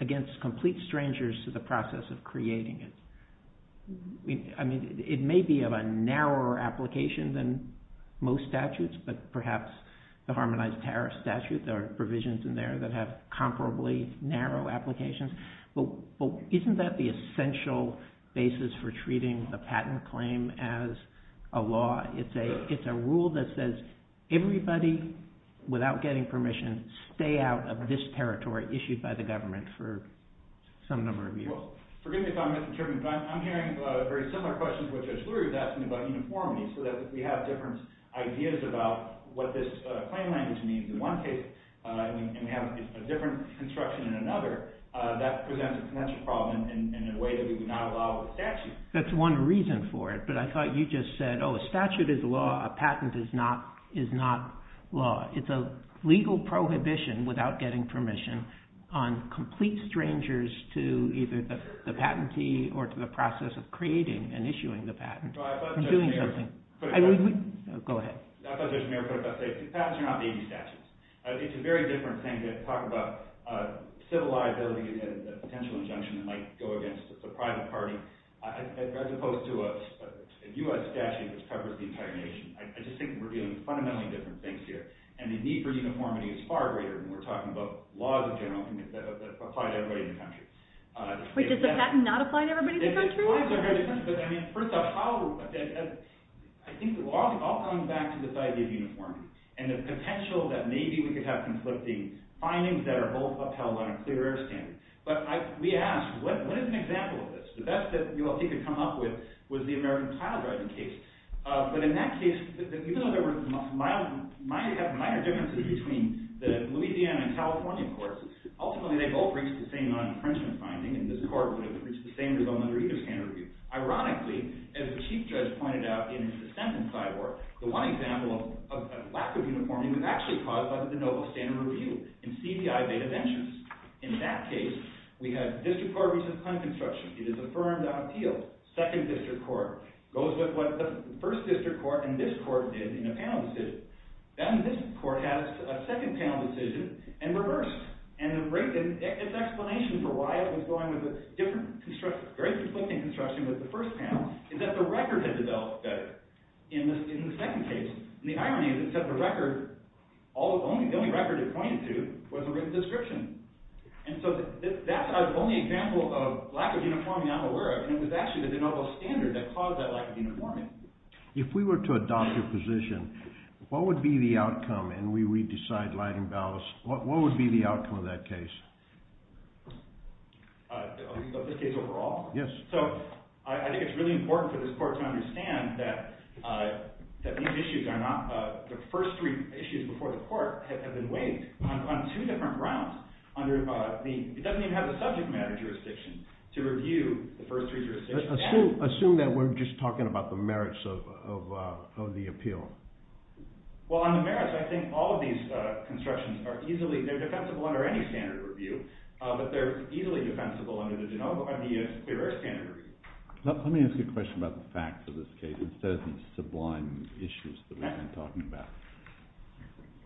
against complete strangers to the process of creating it. I mean, it may be of a narrower application than most statutes, but perhaps the Harmonized Tariff Statute, there are provisions in there that have comparably narrow applications. But isn't that the essential basis for treating the patent claim as a law? It's a rule that says everybody, without getting permission, stay out of this territory issued by the government for some number of years. Forgive me if I'm misinterpreting, but I'm hearing very similar questions that Judge Lurie was asking about uniformity, so that we have different ideas about what this claim might be to me. In one case, you can have a different construction in another. That presents a potential problem in a way that we do not allow with statutes. That's one reason for it, but I thought you just said, oh, a statute is law, a patent is not law. It's a legal prohibition, without getting permission, on complete strangers to either the patentee or to the process of creating and issuing the patent. I'm doing something. Go ahead. I thought Judge Merrick would update. Patents are not maybe statutes. It's a very different thing to talk about civil liability and a potential injunction that might go against the private party, as opposed to a U.S. statute that covers the entire nation. I just think we're dealing with fundamentally different things here, and the need for uniformity is far greater when we're talking about laws in general that apply to everybody in the country. But does the patent not apply to everybody in the country? Of course. I mean, first off, I'll come back to this idea of uniformity and the potential that maybe we could have conflicting findings that are both upheld on a clear air standard. But we asked, what is an example of this? The best that we could come up with was the American Children's case. But in that case, we knew there were minor differences between the Louisiana and California courts. Ultimately, they both reached the same non-deterrence finding, and this court reached the same result under either standard review. Ironically, as the Chief Judge pointed out in his sentence I wrote, the one example of a lack of uniformity was actually caused by the no standard review in CBI beta benches. In that case, we had district court recent claim construction. It is affirmed on appeal. Second district court goes with what the first district court and this court did in a panel decision. Then this court has a second panel decision and reversed. And it's an explanation for why it was going with a very conflicting construction with the first panel. It's that the record had developed better in the second case. And the irony is that the only record it pointed to was a written description. And so that's the only example of lack of uniformity out in the world. And it was actually the no standard that caused that lack of uniformity. If we were to adopt a position, what would be the outcome? And we decide light and balance. What would be the outcome of that case? Of this case overall? Yes. So I think it's really important for this court to understand that these issues are not the first three issues before the court have been waived on two different grounds. It doesn't even have a subject matter jurisdiction to review the first three jurisdictions. Assume that we're just talking about the merits of the appeal. Well, on the merits, I think all of these constructions are easily, they're defensible under any standard review. But they're easily defensible under the generic standard review. Let me ask a question about the facts of this case. This doesn't sublime the issues that we've been talking about.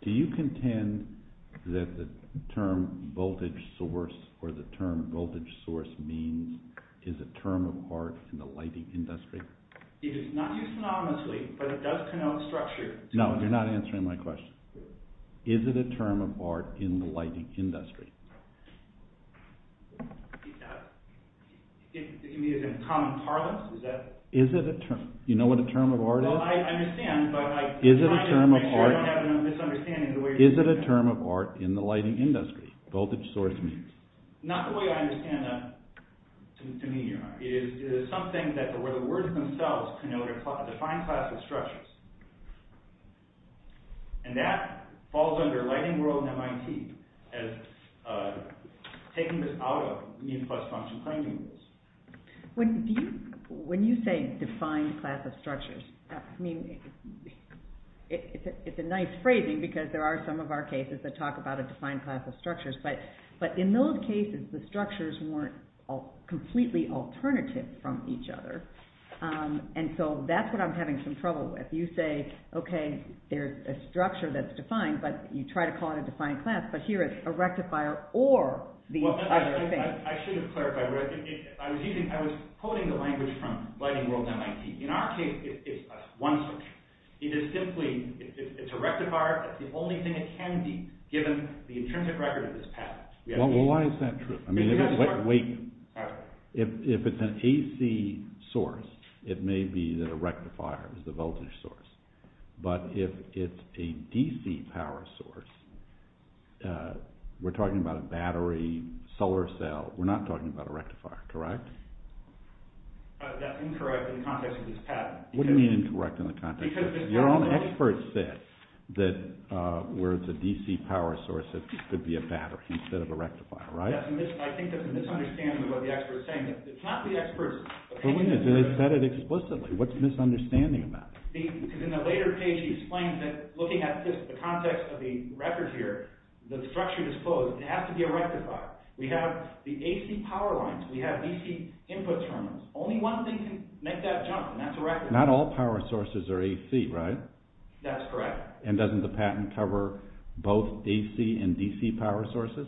Do you contend that the term voltage source or the term voltage source means is a term of art in the lighting industry? It is not used monotonously, but it does denote structure. No, you're not answering my question. Is it a term of art in the lighting industry? You mean in a common parlance? You know what a term of art is? Is it a term of art in the lighting industry, voltage source means? Not the way I understand that. It is something where the words themselves define classical structures. And that falls under lighting world and MIT as taking this out of mean plus function framing rules. When you say defined class of structures, it's a nice phrasing because there are some of our cases that talk about a defined class of structures. But in those cases, the structures weren't completely alternative from each other. And so that's what I'm having some trouble with. You say, okay, there's a structure that's defined, but you try to call it a defined class, but here it's a rectifier or the other. I should have clarified. I was using, I was quoting the language from lighting world and MIT. In our case, it's one structure. It is simply, it's a rectifier. It's the only thing that can be given the intrinsic record of this power. Well, why is that true? I mean, if it's an AC source, it may be the rectifier, the voltage source. But if it's a DC power source, we're talking about a battery, solar cell. We're not talking about a rectifier, correct? That's incorrect in the context of this pattern. What do you mean incorrect in the context of this pattern? Your own expert said that where the DC power source could be a battery instead of a rectifier, right? I think there's a misunderstanding of what the expert is saying. It's not the expert's opinion. It is stated explicitly. What's the misunderstanding about that? Because in the later page, he explains that looking at the context of the record here, the structure is closed. It has to be a rectifier. We have the AC power lines. We have DC input terminals. Only one thing can make that jump, and that's a rectifier. Not all power sources are AC, right? That's correct. And doesn't the patent cover both AC and DC power sources?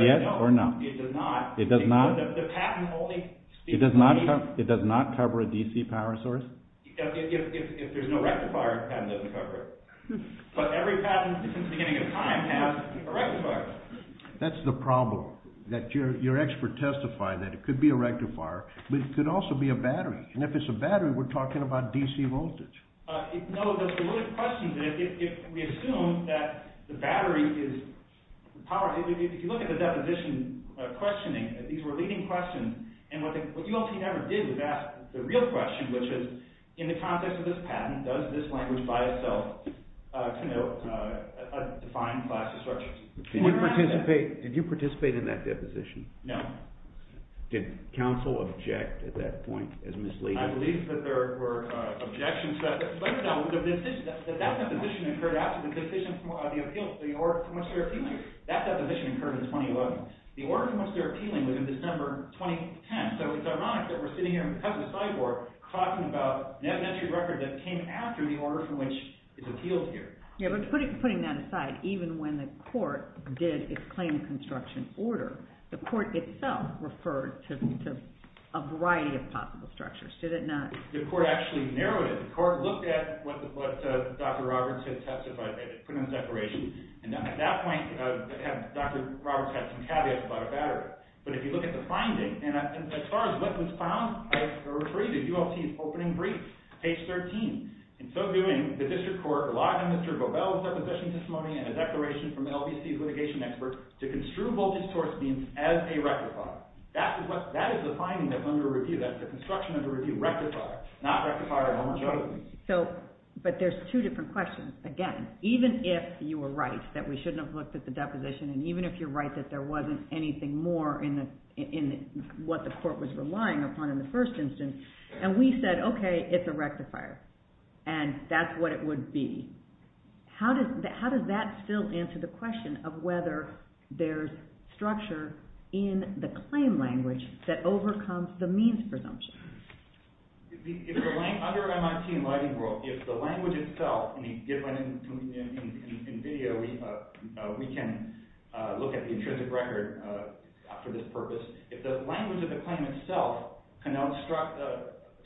Yes or no? It does not. It does not? It does not cover a DC power source? That's the problem, that your expert testified that it could be a rectifier, but it could also be a battery. And if it's a battery, we're talking about DC voltage. And what we also never did was ask the real question, which is, in the context of this patent, does this language by itself define class disruptions? Did you participate in that deposition? No. Did counsel object at that point as misleading? I believe that there were objections to that deposition. That deposition occurred after the decision on the appeals for the order of commerce to their appealing. That deposition occurred in 2011. The order of commerce to their appealing was in December 2010. So it's ironic that we're sitting here in front of the sideboard talking about an evidentiary record that came after the order for which it's appealed here. Yeah, but putting that aside, even when the court did its claim construction order, the court itself referred to a variety of topical structures. Did it not? The court actually narrowed it. The court looked at what Dr. Roberts had testified, put in a declaration. And at that point, Dr. Roberts had some caveats about a battery. But if you look at the finding, and as far as what was found, I refer you to ULT's opening brief, page 13. In so doing, the district court, a lot of Mr. Bobel was at the session this morning, had a declaration from LBC's litigation expert that construed voltage source beams as a rectifier. That is the finding that's under review. That's the construction under review. Rectifier. Not rectifier. I'm not joking. But there's two different questions. Again, even if you were right that we shouldn't have looked at the deposition, and even if you're right that there wasn't anything more in what the court was relying upon in the first instance, and we said, okay, it's a rectifier, and that's what it would be, how does that still answer the question of whether there's structure in the claim language that overcomes the means presumption? Under MRT and lighting rule, if the language itself can be given in video, we can look at the intrinsic record after this purpose. If the language of the claim itself can instruct the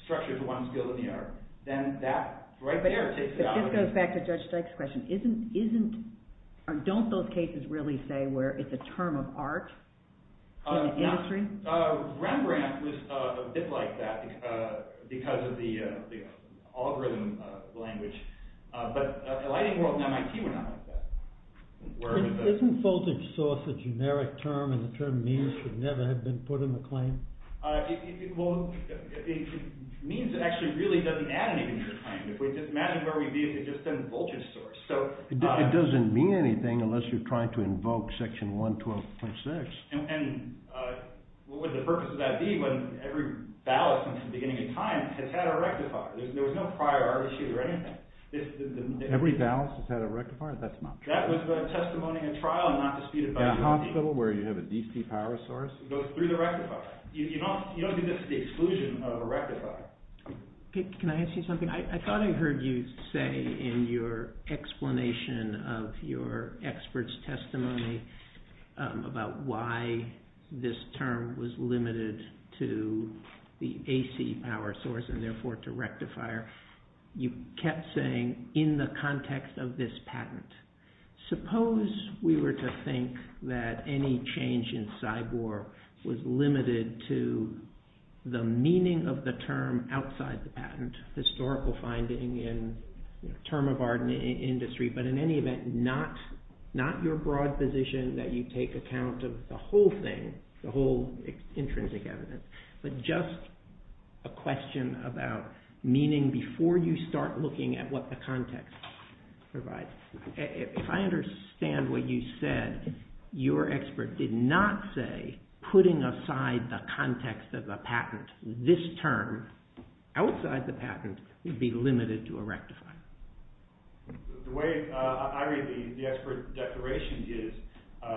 structure to one skill or the other, then that right there takes it out. This goes back to Judge Stokes' question. Don't those cases really say where it's a term of art? Rembrandt was a bit like that because of the algorithm of the language. But lighting rule and MRT were not like that. Isn't voltage source a generic term and the term means should never have been put in the claim? Means actually really doesn't add anything to the claim. Imagine where we'd be if it had just been voltage source. It doesn't mean anything unless you're trying to invoke Section 112.6. And what would the purpose of that be when every balance since the beginning of time has had a rectifier? There was no prior RBC or anything. Every balance has had a rectifier? That's not true. That was the testimony in trial and not disputed by the jury. In a hospital where you have a DC power source? It goes through the rectifier. You don't get the exclusion of a rectifier. Can I ask you something? I thought I heard you say in your explanation of your expert's testimony about why this term was limited to the AC power source and therefore to rectifier. You kept saying in the context of this patent, suppose we were to think that any change in CYBOR was limited to the meaning of the term outside the patent, historical finding in the term of our industry, but in any event, not your broad position that you take account of the whole thing, the whole intrinsic evidence, but just a question about meaning before you start looking at what the context provides. If I understand what you said, your expert did not say putting aside the context of the patent, this term outside the patent would be limited to a rectifier. The way I read the expert declaration is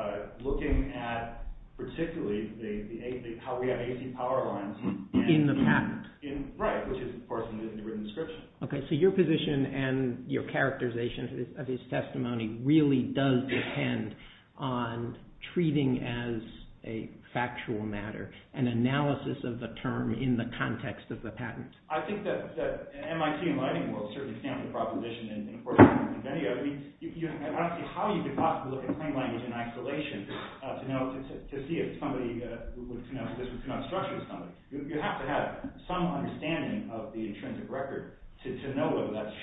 looking at particularly how we have AC power lines. In the patent? Right, which is of course in the written description. Okay, so your position and your characterization of his testimony really does depend on treating as a factual matter, an analysis of the term in the context of the patent. I think that MIT and lightning will certainly stamp the proposition in court. I mean, how is it possible to look at plain language in isolation to see if somebody, you know, that's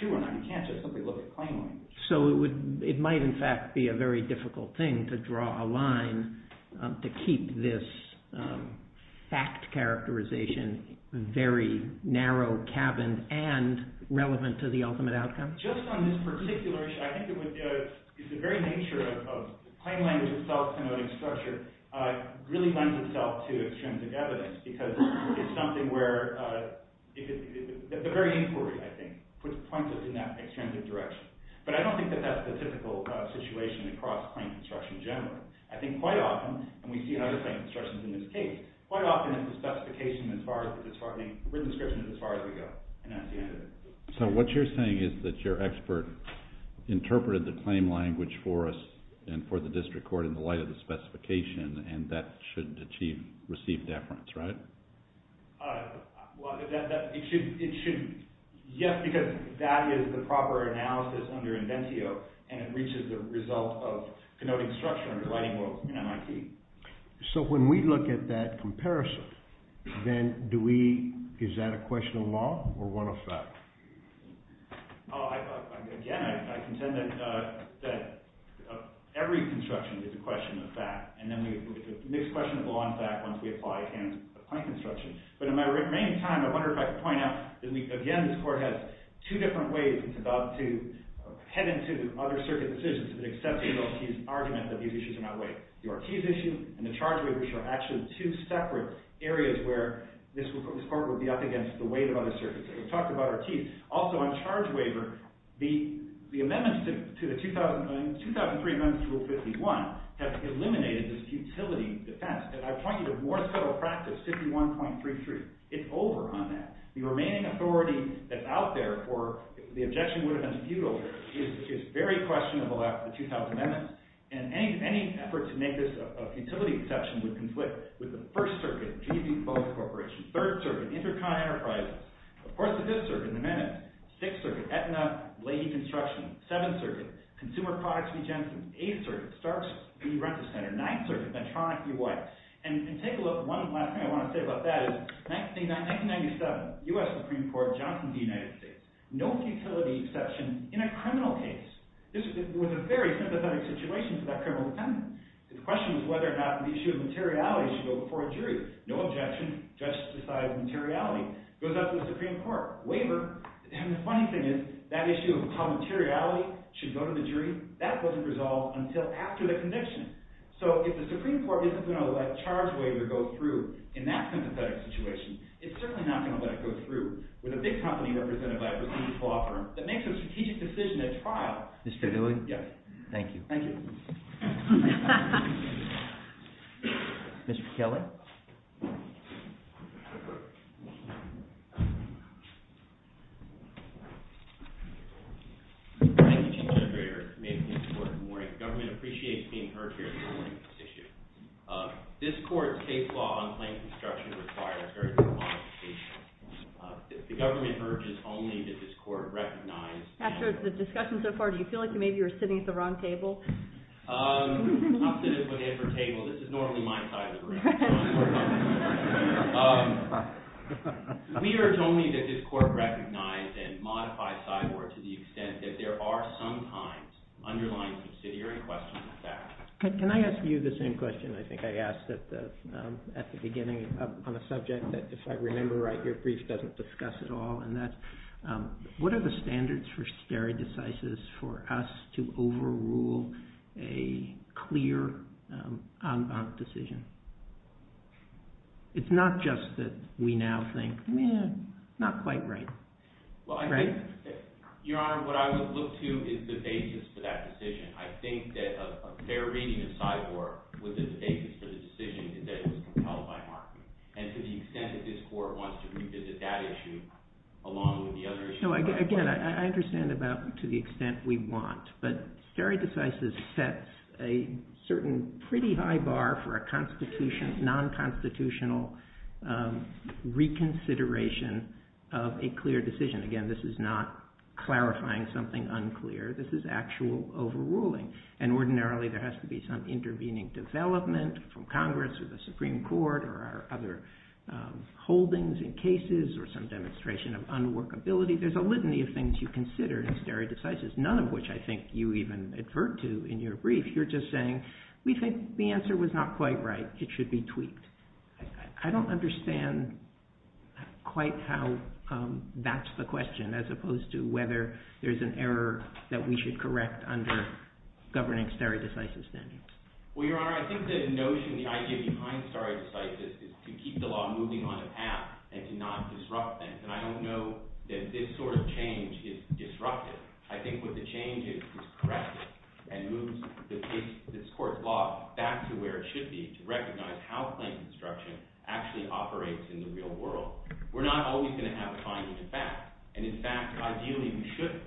true or not, you can't just simply look at plain language. So it might in fact be a very difficult thing to draw a line to keep this fact characterization very narrow, caverned, and relevant to the ultimate outcome? Just on this particular issue, I think it's the very nature of plain language itself, really lends itself to extrinsic evidence because it's something where it's very important, I think, to put the point in that extrinsic direction. But I don't think that that's the typical situation across plain construction in general. I think quite often, and we see other plain constructions in this case, quite often the specification is as far as the written description is as far as we go. So what you're saying is that your expert interpreted the plain language for us and for the district court in the light of the specification, and that should achieve, receive deference, right? Well, it should, yes, because it values the proper analysis under inventio and it reaches the result of construction relating to MIT. So when we look at that comparison, then do we, is that a question of law or what effect? Again, I contend that every construction is a question of fact, and then we can mix questions of law and fact once we apply it against a plain construction. But in my remaining time, I wondered if I could point out that, again, this court has two different ways to head into other circuit decisions to the extent that we don't see an argument that these issues are not related. The Ortiz issue and the charge rate issue are actually two separate areas where this court will be up against the weight of other circuits. We've talked about Ortiz. Also, on charge waiver, the amendments to the 2003 Amendment to Rule 51 have eliminated this utility defense. And I've talked to you of more subtle practice, 51.33. It's over on that. The remaining authority that's out there for the objection that would have been appealed is very questionable after the 2000 amendment, and any effort to make this a utility protection would conflict with the First Circuit, the Third Circuit, Intercontinental Enterprises, the Fourth and Fifth Circuit, the Amendment, the Sixth Circuit, Aetna, Lady Construction, the Seventh Circuit, Consumer Products Regents, the Eighth Circuit, Star City Rent-a-Center, the Ninth Circuit, Metronic, U.S. And you can take a look. One thing I want to say about that is 1997, U.S. Supreme Court of Johnson v. United States, no utility exception in a criminal case. This was a very sympathetic situation for that criminal defendant. The question is whether or not the issue of materiality should go before a jury. No objection. Justice decides materiality. Goes up to the Supreme Court. Waiver. And the funny thing is that issue of how materiality should go to the jury, that wasn't resolved until after the conviction. So if the Supreme Court isn't going to let a charge waiver go through in that sympathetic situation, it's certainly not going to let it go through with a big company represented by a business law firm that makes a strategic decision at trial. Thank you. Thank you. Mr. Keller? Thank you. After the discussion so far, do you feel like maybe you're sitting at the wrong table? No. Can I ask you the same question I think I asked at the beginning on a subject that, if I remember right, your brief doesn't discuss at all, what are the standards for stare decisis for us to overrule a clear, unbounded decision? It's not just that we now think, eh, not quite right. Your Honor, what I would look to is the basis for that decision. I think that a fair reason to sideboard with the basis for the decision is that it was compelled by market. And to the extent that this Court wants to revisit that issue along with the other issues... Again, I understand about to the extent we want, but stare decisis sets a certain pretty high bar for a non-constitutional reconsideration of a clear decision. Again, this is not clarifying something unclear. This is actual overruling. And ordinarily there has to be some intervening development from Congress or the Supreme Court or other holdings in cases or some demonstration of unworkability. There's a litany of things you consider in stare decisis, none of which I think you even advert to in your brief. You're just saying, we think the answer was not quite right. It should be tweaked. I don't understand quite how that's the question, as opposed to whether there's an error that we should correct under governing stare decisis standards. Well, Your Honor, I think the notion, the idea behind stare decisis is to keep the law moving on a path and to not disrupt that. And I don't know that this sort of change is disruptive. I think what the change is, is correct it and move this Court law back to where it should be to recognize how plain construction actually operates in the real world. We're not always going to have time to do that. And in fact, ideally we shouldn't.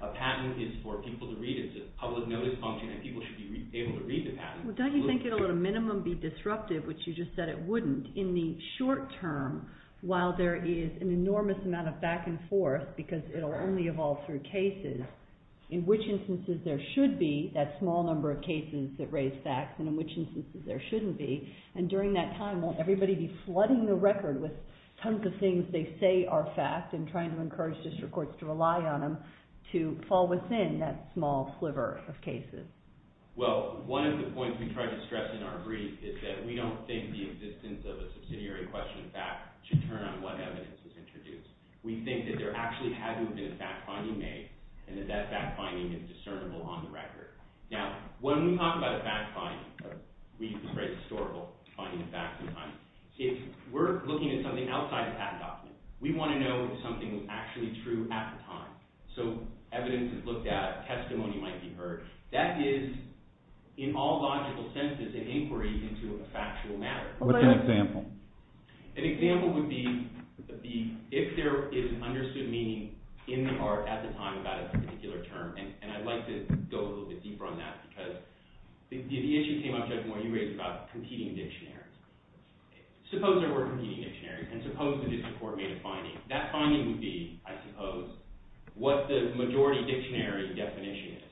But a patent is for people to read. It's a public notice function that people should be able to read the patent. Well, don't you think it'll at a minimum be disruptive, which you just said it wouldn't, in the short term while there is an enormous amount of back and forth, because it'll only evolve through cases, in which instances there should be that small number of cases that raise facts and in which instances there shouldn't be. And during that time, won't everybody be flooding the record with tons of things they say are facts and trying to encourage district courts to rely on them to fall within that small sliver of cases? Well, one of the points we tried to stress in our brief is that we don't think the existence of a subsidiary question of fact should turn on what evidence is introduced. We think that there actually has to have been a fact-finding made and that that fact-finding is discernible on the record. Now, when we talk about a fact-finding, we use the phrase historical finding, fact-finding. If we're looking at something outside of that level, we want to know if something was actually true at the time, so evidence is looked at, testimony might be heard. That is, in all logical senses, an inquiry into a factual matter. What's an example? An example would be if there is an understood meaning in part at the time about a particular term, and I'd like to go a little bit deeper on that, because the interesting thing I'm trying to argue is about competing dictionaries. Suppose there were competing dictionaries, and suppose the district court made a finding. That finding would be, I suppose, what the majority dictionary definition is.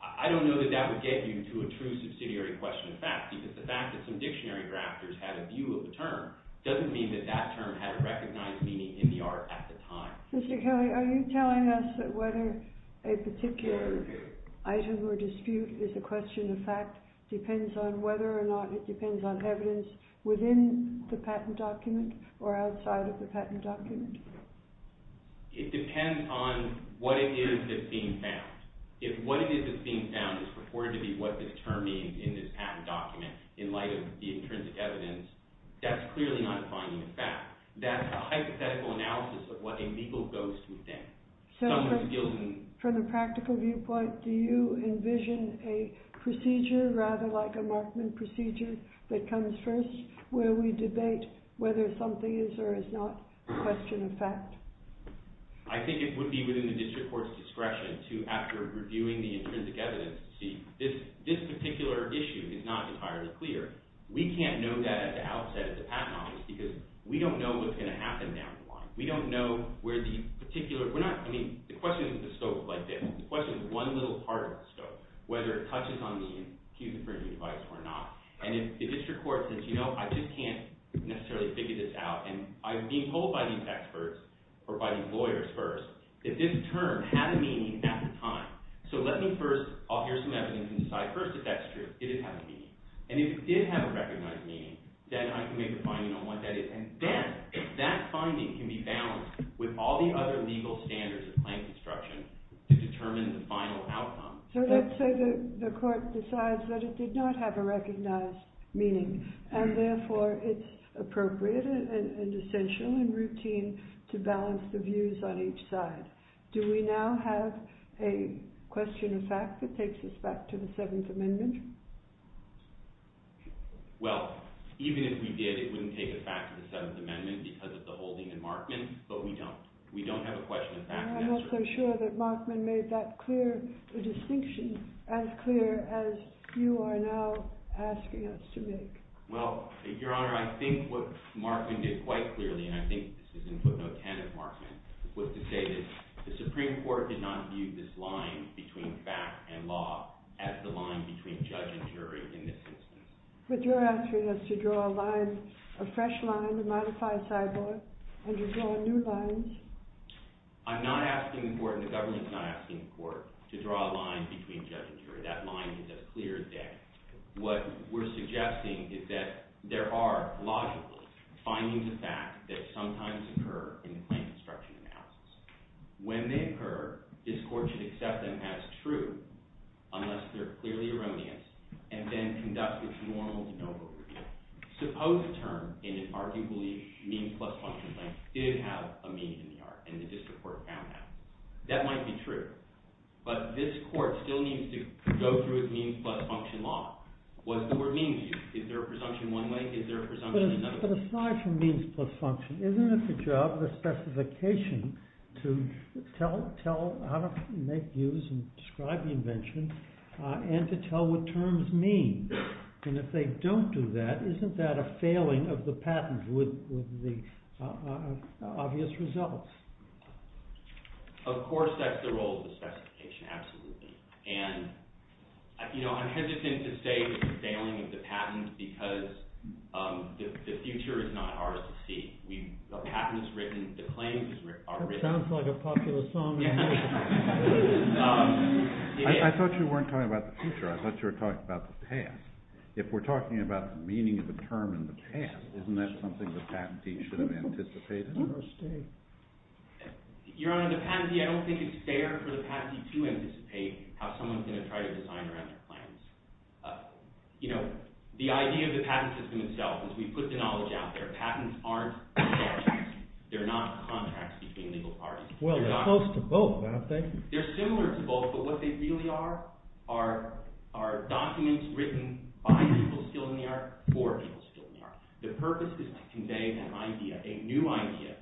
I don't know that that would get you to a true subsidiary question of fact, because the fact that some dictionary drafters had a view of the term doesn't mean that that term had a recognized meaning in the art at the time. Mr. Kelly, are you telling us that whether a particular item or dispute is a question of fact depends on whether or not it depends on evidence within the patent document or outside of the patent document? It depends on what it is that's being found. If what it is that's being found is reported to be what this term means in this patent document in light of the intrinsic evidence, that's clearly not a finding of fact. That's a hypothetical analysis of what a legal ghost would think. So from a practical viewpoint, do you envision a procedure rather like a Markman procedure that comes first where we debate whether something is or is not a question of fact? I think it would be within the district court's discretion to, after reviewing the intrinsic evidence, see if this particular issue is not entirely clear. We can't know that at the outset of the patent office because we don't know what's going to happen now. We don't know where the particular... I mean, the question isn't the scope of like this. The question is one little part of the scope, whether it touches on the human rights advice or not. And if the district court says, you know, I just can't necessarily figure this out and I'm being pulled by these experts or by these lawyers first, if this term had a meaning at the time. So let me first author some evidence and decide first if that's true, if it had a meaning. And if it did have a recognized meaning, then I can make a finding on what that is. And then, if that finding can be balanced with all the other legal standards and plan construction to determine the final outcome... So let's say the court decides that it did not have a recognized meaning and therefore it's appropriate and essential and routine to balance the views on each side. Do we now have a question of fact that takes us back to the Seventh Amendment? Well, even if we did, it wouldn't take us back to the Seventh Amendment because of the holding in Markman, but we don't. We don't have a question of fact. I'm not so sure that Markman made that clear, the distinction, as clear as you are now asking us to make. Well, Your Honor, I think what Markman did quite clearly, and I think this is in footnote 10 of Markman, was to say that the Supreme Court did not view this line between fact and law as the line between judge and jury in this instance. But you're asking us to draw a line, a fresh line, a modified sidewalk, and to draw new lines. I'm not asking the court, and the government is not asking the court, to draw a line between judge and jury. That line is as clear as day. What we're suggesting is that there are logical findings of fact that sometimes occur in plan construction analysis. When they occur, this court should accept them as true, unless they're clearly erroneous, and then conduct a formal de novo review. Suppose a term in an arguably means-plus function case did have a mean in the art, and the district court found it. That might be true, but this court still needs to go through a means-plus function law. Was there a mean view? Is there a presumption one way? Is there a presumption another way? But aside from means-plus function, isn't it the job of the specification to tell how to make use and describe the invention, and to tell what terms mean? And if they don't do that, isn't that a failing of the patent with the obvious results? Of course that's the role of the specification, absolutely. And, you know, I'm hesitant to say it's a failing of the patent because the future is not ours to see. The patent's written, the claims are written. That sounds like a popular song. I thought you weren't talking about the future. I thought you were talking about the past. If we're talking about the meaning of a term in the past, isn't that something the patentee should have anticipated? Your Honor, the patentee, I don't think it's fair for the patentee to anticipate how someone's going to try to design or have their plans. You know, the idea of the patent system itself is we put the knowledge out there. Patents aren't statutes. They're not contracts between legal parties. Well, they're close to both, aren't they? They're similar to both, but what they really are are documents written by people still in the era or people still in the era. The purpose is to convey an idea, a new idea,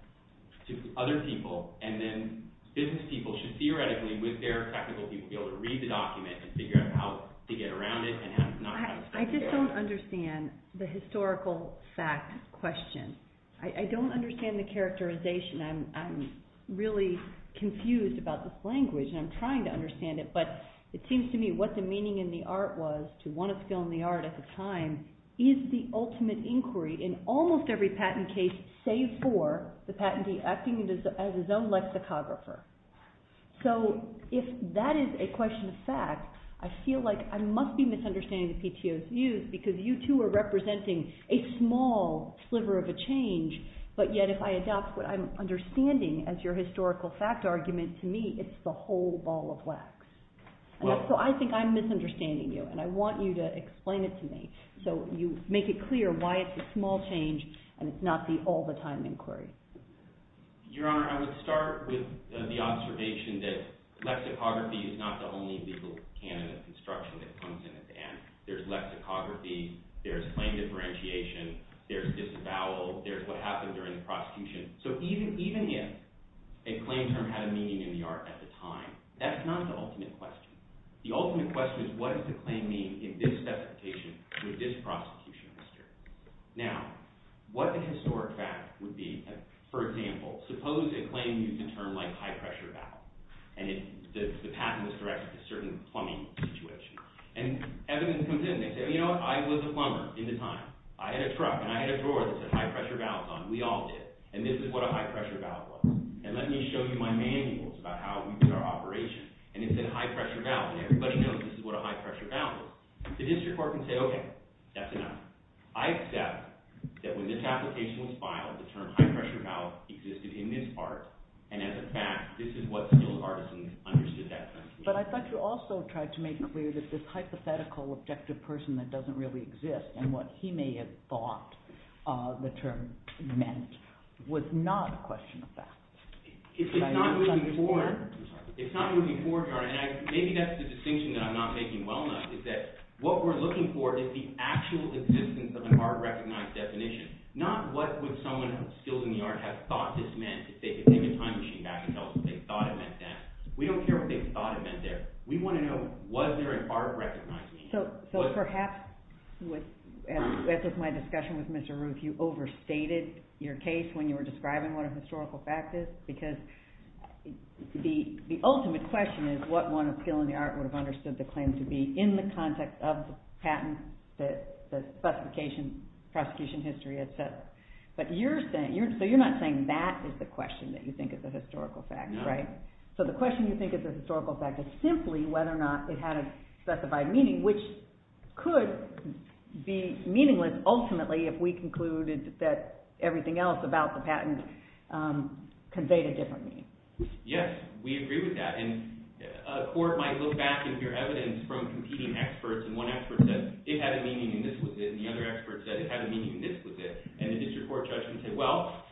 to other people. And then business people should theoretically, with their technical people, be able to read the document and figure out how to get around it. I just don't understand the historical fact question. I don't understand the characterization. I'm really confused about this language, and I'm trying to understand it. But it seems to me what the meaning in the art was to want to fill in the art at the time is the ultimate inquiry in almost every patent case save for the patentee acting as his own lexicographer. So if that is a question of fact, I feel like I must be misunderstanding the PTO's views because you two are representing a small sliver of a change. But yet if I adopt what I'm understanding as your historical fact argument, to me it's the whole ball of wax. So I think I'm misunderstanding you, and I want you to explain it to me so you make it clear why it's a small change and it's not the all-the-time inquiry. Your Honor, I would start with the observation that lexicography is not the only legal candidate construction that comes in at the end. There's lexicography, there's claim differentiation, there's disavowal, there's what happened during the prosecution. So even if a claim term had a meaning in the art at the time, that's not the ultimate question. The ultimate question is what does the claim mean in this specification with this prosecution history? Now, what the historic fact would be, for example, suppose a claim used a term like high-pressure valve, and the patent was directed to a certain plumbing situation. And evidence comes in that says, you know, I was a plumber in the time. I had a truck and I had a drawer that said high-pressure valve on it. We all did. And this is what a high-pressure valve was. And let me show you my manuals about how we did our operation. And it said high-pressure valve, and everybody knows this is what a high-pressure valve was. The district court can say, okay, that's enough. I accept that when this application was filed, the term high-pressure valve existed in this part. And as a fact, this is what civil partisans understood that to mean. But I'd like to also try to make it clear that this hypothetical objective person that doesn't really exist and what he may have thought the term meant was not a question of fact. It's not moving forward. I'm sorry. It's not moving forward. Maybe that's the distinction that I'm not making well enough is that what we're looking for is the actual existence of a hard recognized definition, not what would someone of skill in the art have thought this meant if they could take a time machine back and tell us what they thought it meant then. We don't care what they thought it meant then. We want to know was there an art recognition. So perhaps, as with my discussion with Mr. Roof, you overstated your case when you were describing what a historical fact is, because the ultimate question is what one of skill in the art would have understood the claim to be in the context of the patent, the justification, prosecution history, etc. But you're saying – so you're not saying that is the question that you think is a historical fact, right? So the question you think is a historical fact is simply whether or not it had a specified meaning, which could be meaningless ultimately if we concluded that everything else about the patent conveyed a different meaning. Yes, we agree with that. And a court might look back at your evidence from competing experts, and one expert said it had a meaning and this was it, and the other expert said it had a meaning and this was it. And the district court judgment said, well,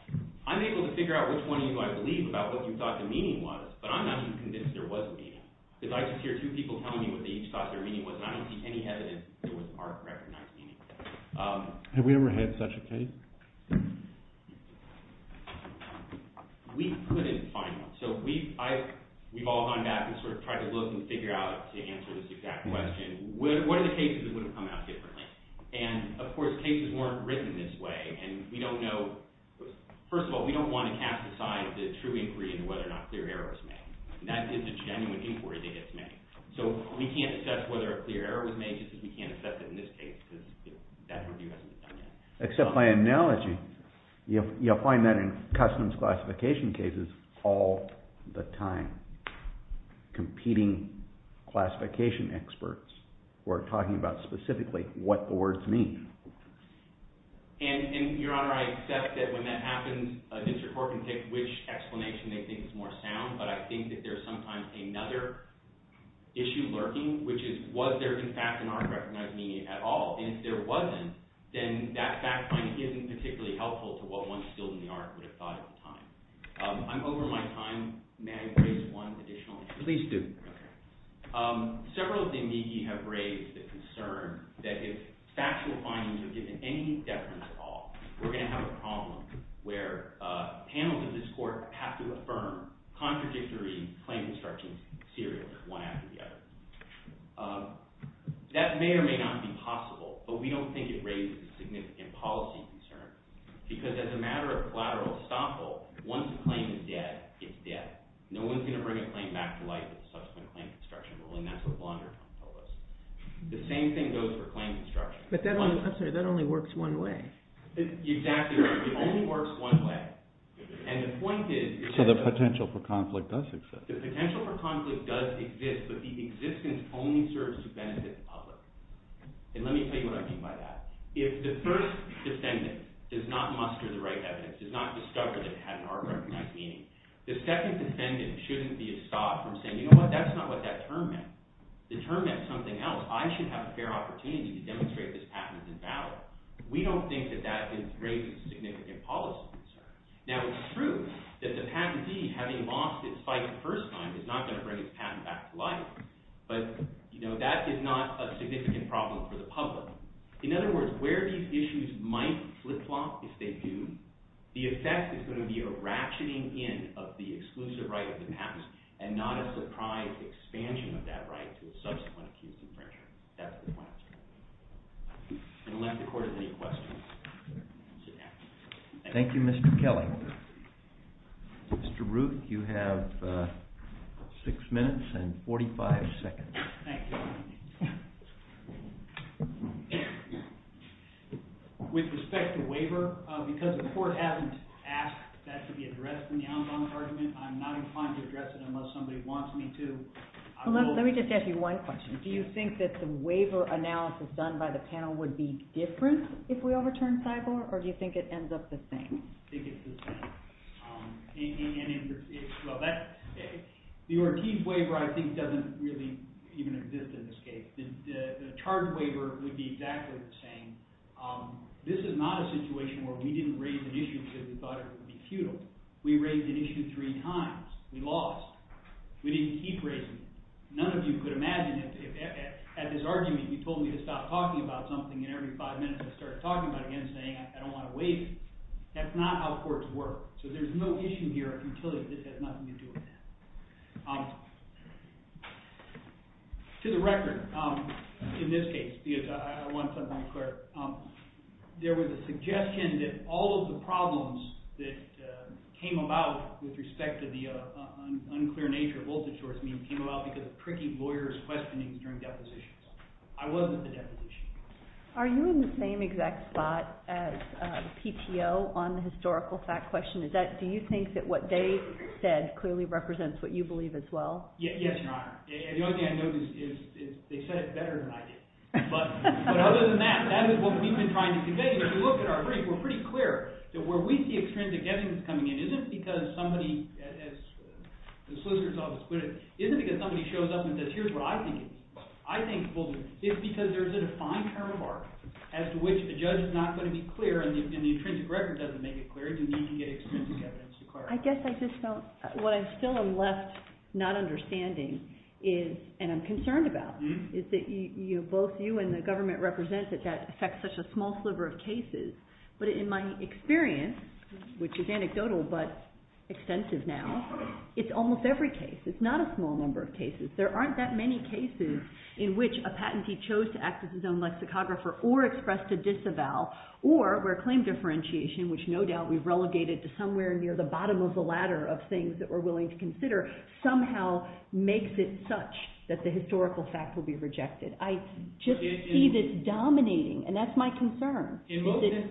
I'm able to figure out which one of you I believe about what you thought the meaning was, but I'm not even convinced there was a meaning. Because I just hear two people telling me what they each thought their meaning was, and I don't see any evidence that it was an art recognition. Have we ever had such a case? We couldn't find one. So we've all gone back and sort of tried to look and figure out to answer this exact question, what are the cases that would have come out differently? And, of course, cases weren't written this way, and we don't know – first of all, we don't want to cast aside the true inquiry into whether or not clear error was made. That is a genuine inquiry that is made. So we can't assess whether a clear error was made just because we can't assess it in this case, because that's a review of the patent. Except by analogy, you'll find that in customs classification cases all the time. Competing classification experts who are talking about specifically what the words mean. And, Your Honor, I accept that when that happens, an intercourt can take which explanation they think is more sound, but I think that there's sometimes another issue lurking, which is was there in fact an art recognition at all? And if there wasn't, then that fact isn't particularly helpful to what one's building the art would have thought at the time. I'm over my time. May I raise one additional issue? Please do. Several of the amici have raised the concern that if facts were fine to give any deference at all, we're going to have a problem where panelists in this court have to affirm contradictory claims that are considered one after the other. That may or may not be possible, but we don't think it raises a significant policy concern, because as a matter of collateral estoppel, once a claim is dead, it's dead. No one's going to bring a claim back to life with a subsequent claim of destruction. The same thing goes for claim of destruction. But that only works one way. Exactly right. It only works one way. So the potential for conflict does exist. The potential for conflict does exist, but the existence only serves to benefit the public. And let me tell you what I mean by that. If the first defendant does not muster the right evidence, does not discover that the patent artwork might be in it, the second defendant shouldn't be stopped from saying, you know what, that's not what that term meant. The term meant something else. I should have a fair opportunity to demonstrate this patent is in value. We don't think that that raises a significant policy concern. Now, it's true that the patentee, having lost his fight the first time, is not going to bring his patent back to life, but that is not a significant problem for the public. In other words, where these issues might flip-flop, if they do, the effect is going to be a ratcheting-in of the exclusive right of the patent and not a surprise expansion of that right to a subsequent case of destruction. That's the point. And we'll end the court with these questions. Thank you, Mr. Kelly. Mr. Root, you have six minutes and 45 seconds. Thank you. With respect to waiver, because the court hasn't asked that to be addressed in the Alabama argument, I'm not inclined to address it unless somebody wants me to. Let me just ask you one question. Do you think that the waiver analysis done by the panel would be different if we overturned Sibor, or do you think it ends up the same? I think it's the same. The Ortiz waiver, I think, doesn't really even exist in this case. The charge waiver would be exactly the same. This is not a situation where we didn't raise an issue because we thought it would be futile. We raised an issue three times. We lost. We didn't keep raising it. None of you could imagine that. At this argument, you told me to stop talking about something, and every five minutes I started talking about it again, saying I don't want to wait. That's not how courts work. So there's no issue here until there's nothing to do with it. To the record, in this case, because I want something clear, there was a suggestion that all of the problems that came about with respect to the unclear nature of open-source came about because of tricky lawyers questioning during depositions. I wasn't at the deposition. Are you in the same exact spot as PTO on the historical fact question? Do you think that what they said clearly represents what you believe as well? Yes, Your Honor. The only thing I know is they said it better than I did. But other than that, that is what we've been trying to debate. If you look at our case, we're pretty clear that where we see extreme degeneration coming in isn't because somebody, as the Solicitor's Office put it, I think it's because there's a defined paramark as to which the judge is not going to be clear and the intrinsic record doesn't make it clear, then you can get extreme evidence to clarify. I guess I just felt what I still am left not understanding is, and I'm concerned about, is that both you and the government represent that that affects such a small sliver of cases. But in my experience, which is anecdotal but extensive now, it's almost every case. It's not a small number of cases. There aren't that many cases in which a patentee chose to act as his own lexicographer or expressed a disavowal or where claim differentiation, which no doubt we've relegated to somewhere near the bottom of the ladder of things that we're willing to consider, somehow makes it such that the historical fact will be rejected. I just see this dominating, and that's my concern. In both cases,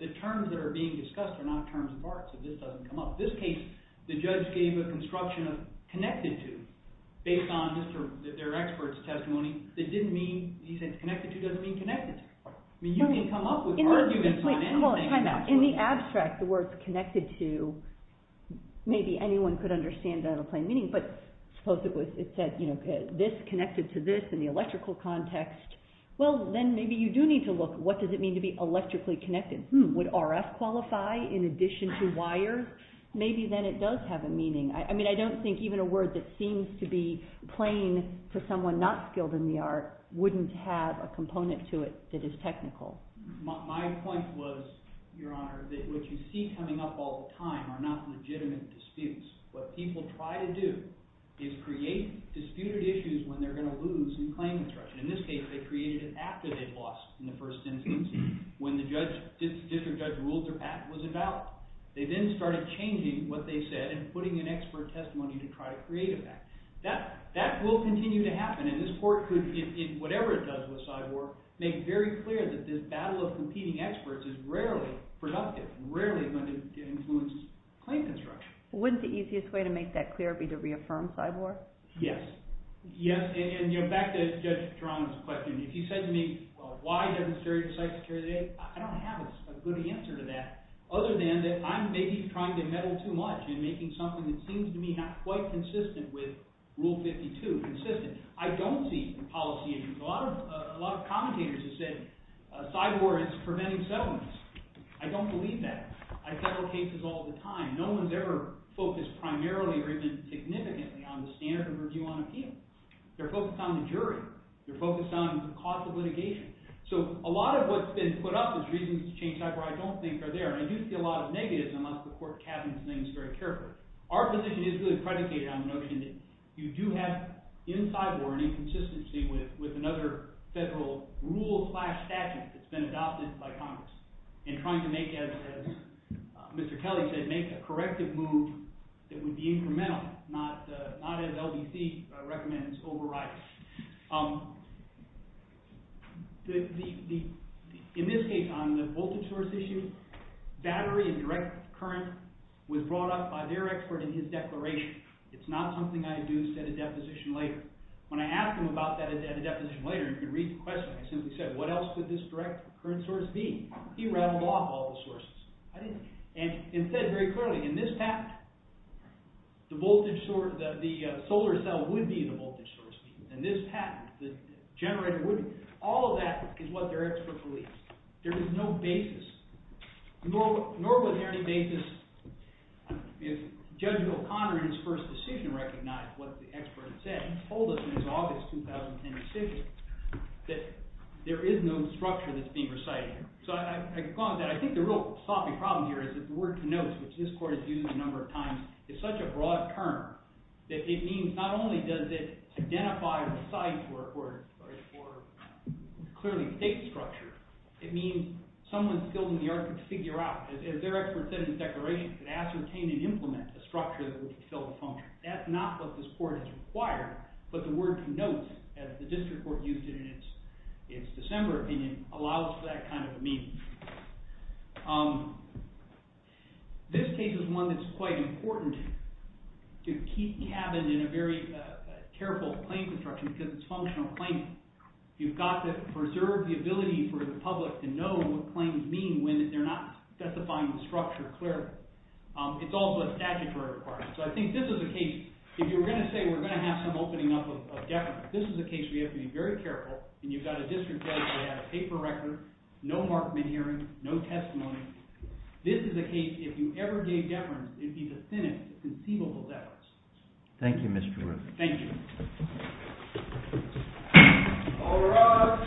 the terms that are being discussed are not terms of art, so this doesn't come up. In this case, the judge gave a construction of connected to based on their expert's testimony. He said connected to doesn't mean connected to. You can come up with arguments on that. In the abstract, the word connected to, maybe anyone could understand that in plain meaning, but supposedly it says this connected to this in the electrical context. Well, then maybe you do need to look, what does it mean to be electrically connected? Would RF qualify in addition to wire? Maybe then it does have a meaning. I mean, I don't think even a word that seems to be plain to someone not skilled in the art wouldn't have a component to it that is technical. My point was, Your Honor, that what you see coming up all the time are not legitimate disputes. What people try to do is create disputed issues when they're going to lose in claim construction. In this case, they created an act that they lost in the first instance when the district judge ruled their act was a doubt. They then started changing what they said and putting in expert testimony to try to create an act. That will continue to happen, and this court could, whatever it does with Cyborg, make very clear that this battle of competing experts is rarely productive, rarely going to influence claim construction. Wouldn't the easiest way to make that clear be to reaffirm Cyborg? Yes. Yes, and back to Judge Geronimo's question. If he said to me, well, why demonstrate the site security, I don't have a good answer to that other than that I'm maybe trying to meddle too much in making something that seems to me not quite consistent with Rule 52 consistent. I don't see policy issues. A lot of commentators have said Cyborg is preventing settlements. I don't believe that. I have several cases all the time. No one has ever focused primarily or even significantly on the standard of review on appeals. They're focused on the jury. They're focused on the cost of litigation. So a lot of what's been put up as reasons to change Cyborg I don't think are there, and I do see a lot of negatives in a lot of the court cabinets' names very carefully. Our position is good predicated on the notion that you do have in Cyborg, in consistency with another federal rule-class statute that's been adopted by Congress in trying to make, as Mr. Kelly said, make a corrective move that would be incremental, not as LBC recommends overrides. In this case on the voltage source issue, battery and direct current was brought up by their expert in his declaration. It's not something I'd use at a deposition later. When I asked him about that at a deposition later, if you read the question, I simply said, what else could this direct current source be? He rattled off all the sources. And he said very clearly, in this patent, the solar cell would be the voltage source. In this patent, the generator wouldn't. All of that is what their expert believes. There is no basis. Nor would there be a basis if Judge O'Connor in his first decision recognized what the expert had said, and told us in his August 2010 decision, that there is no structure that's being recited. So I could call on that. I think the real problem here is that the word connotes, which this court has used a number of times, is such a broad term that it means not only does it identify the size or clearly take structure, it means someone's building the argument to figure out. As their expert said in his declaration, to ascertain and implement the structure that would fulfill the function. That's not what this court has required. But the word connotes, as the district court used it in its December opinion, allows for that kind of meaning. This case is one that's quite important to keep the cabin in a very careful claims instruction, because it's functional claiming. You've got to preserve the ability for the public to know what claims mean when they're not specifying the structure clearly. It's also a statutory requirement. So I think this is a case, if you were going to say, we're going to have some opening up of deference, this is a case where you have to be very careful. And you've got a district judge that has a paper record, no markman hearing, no testimony. This is a case, if you ever gave deference, it'd be the thinnest conceivable deference. Thank you, Mr. Peruzza. Thank you. All rise.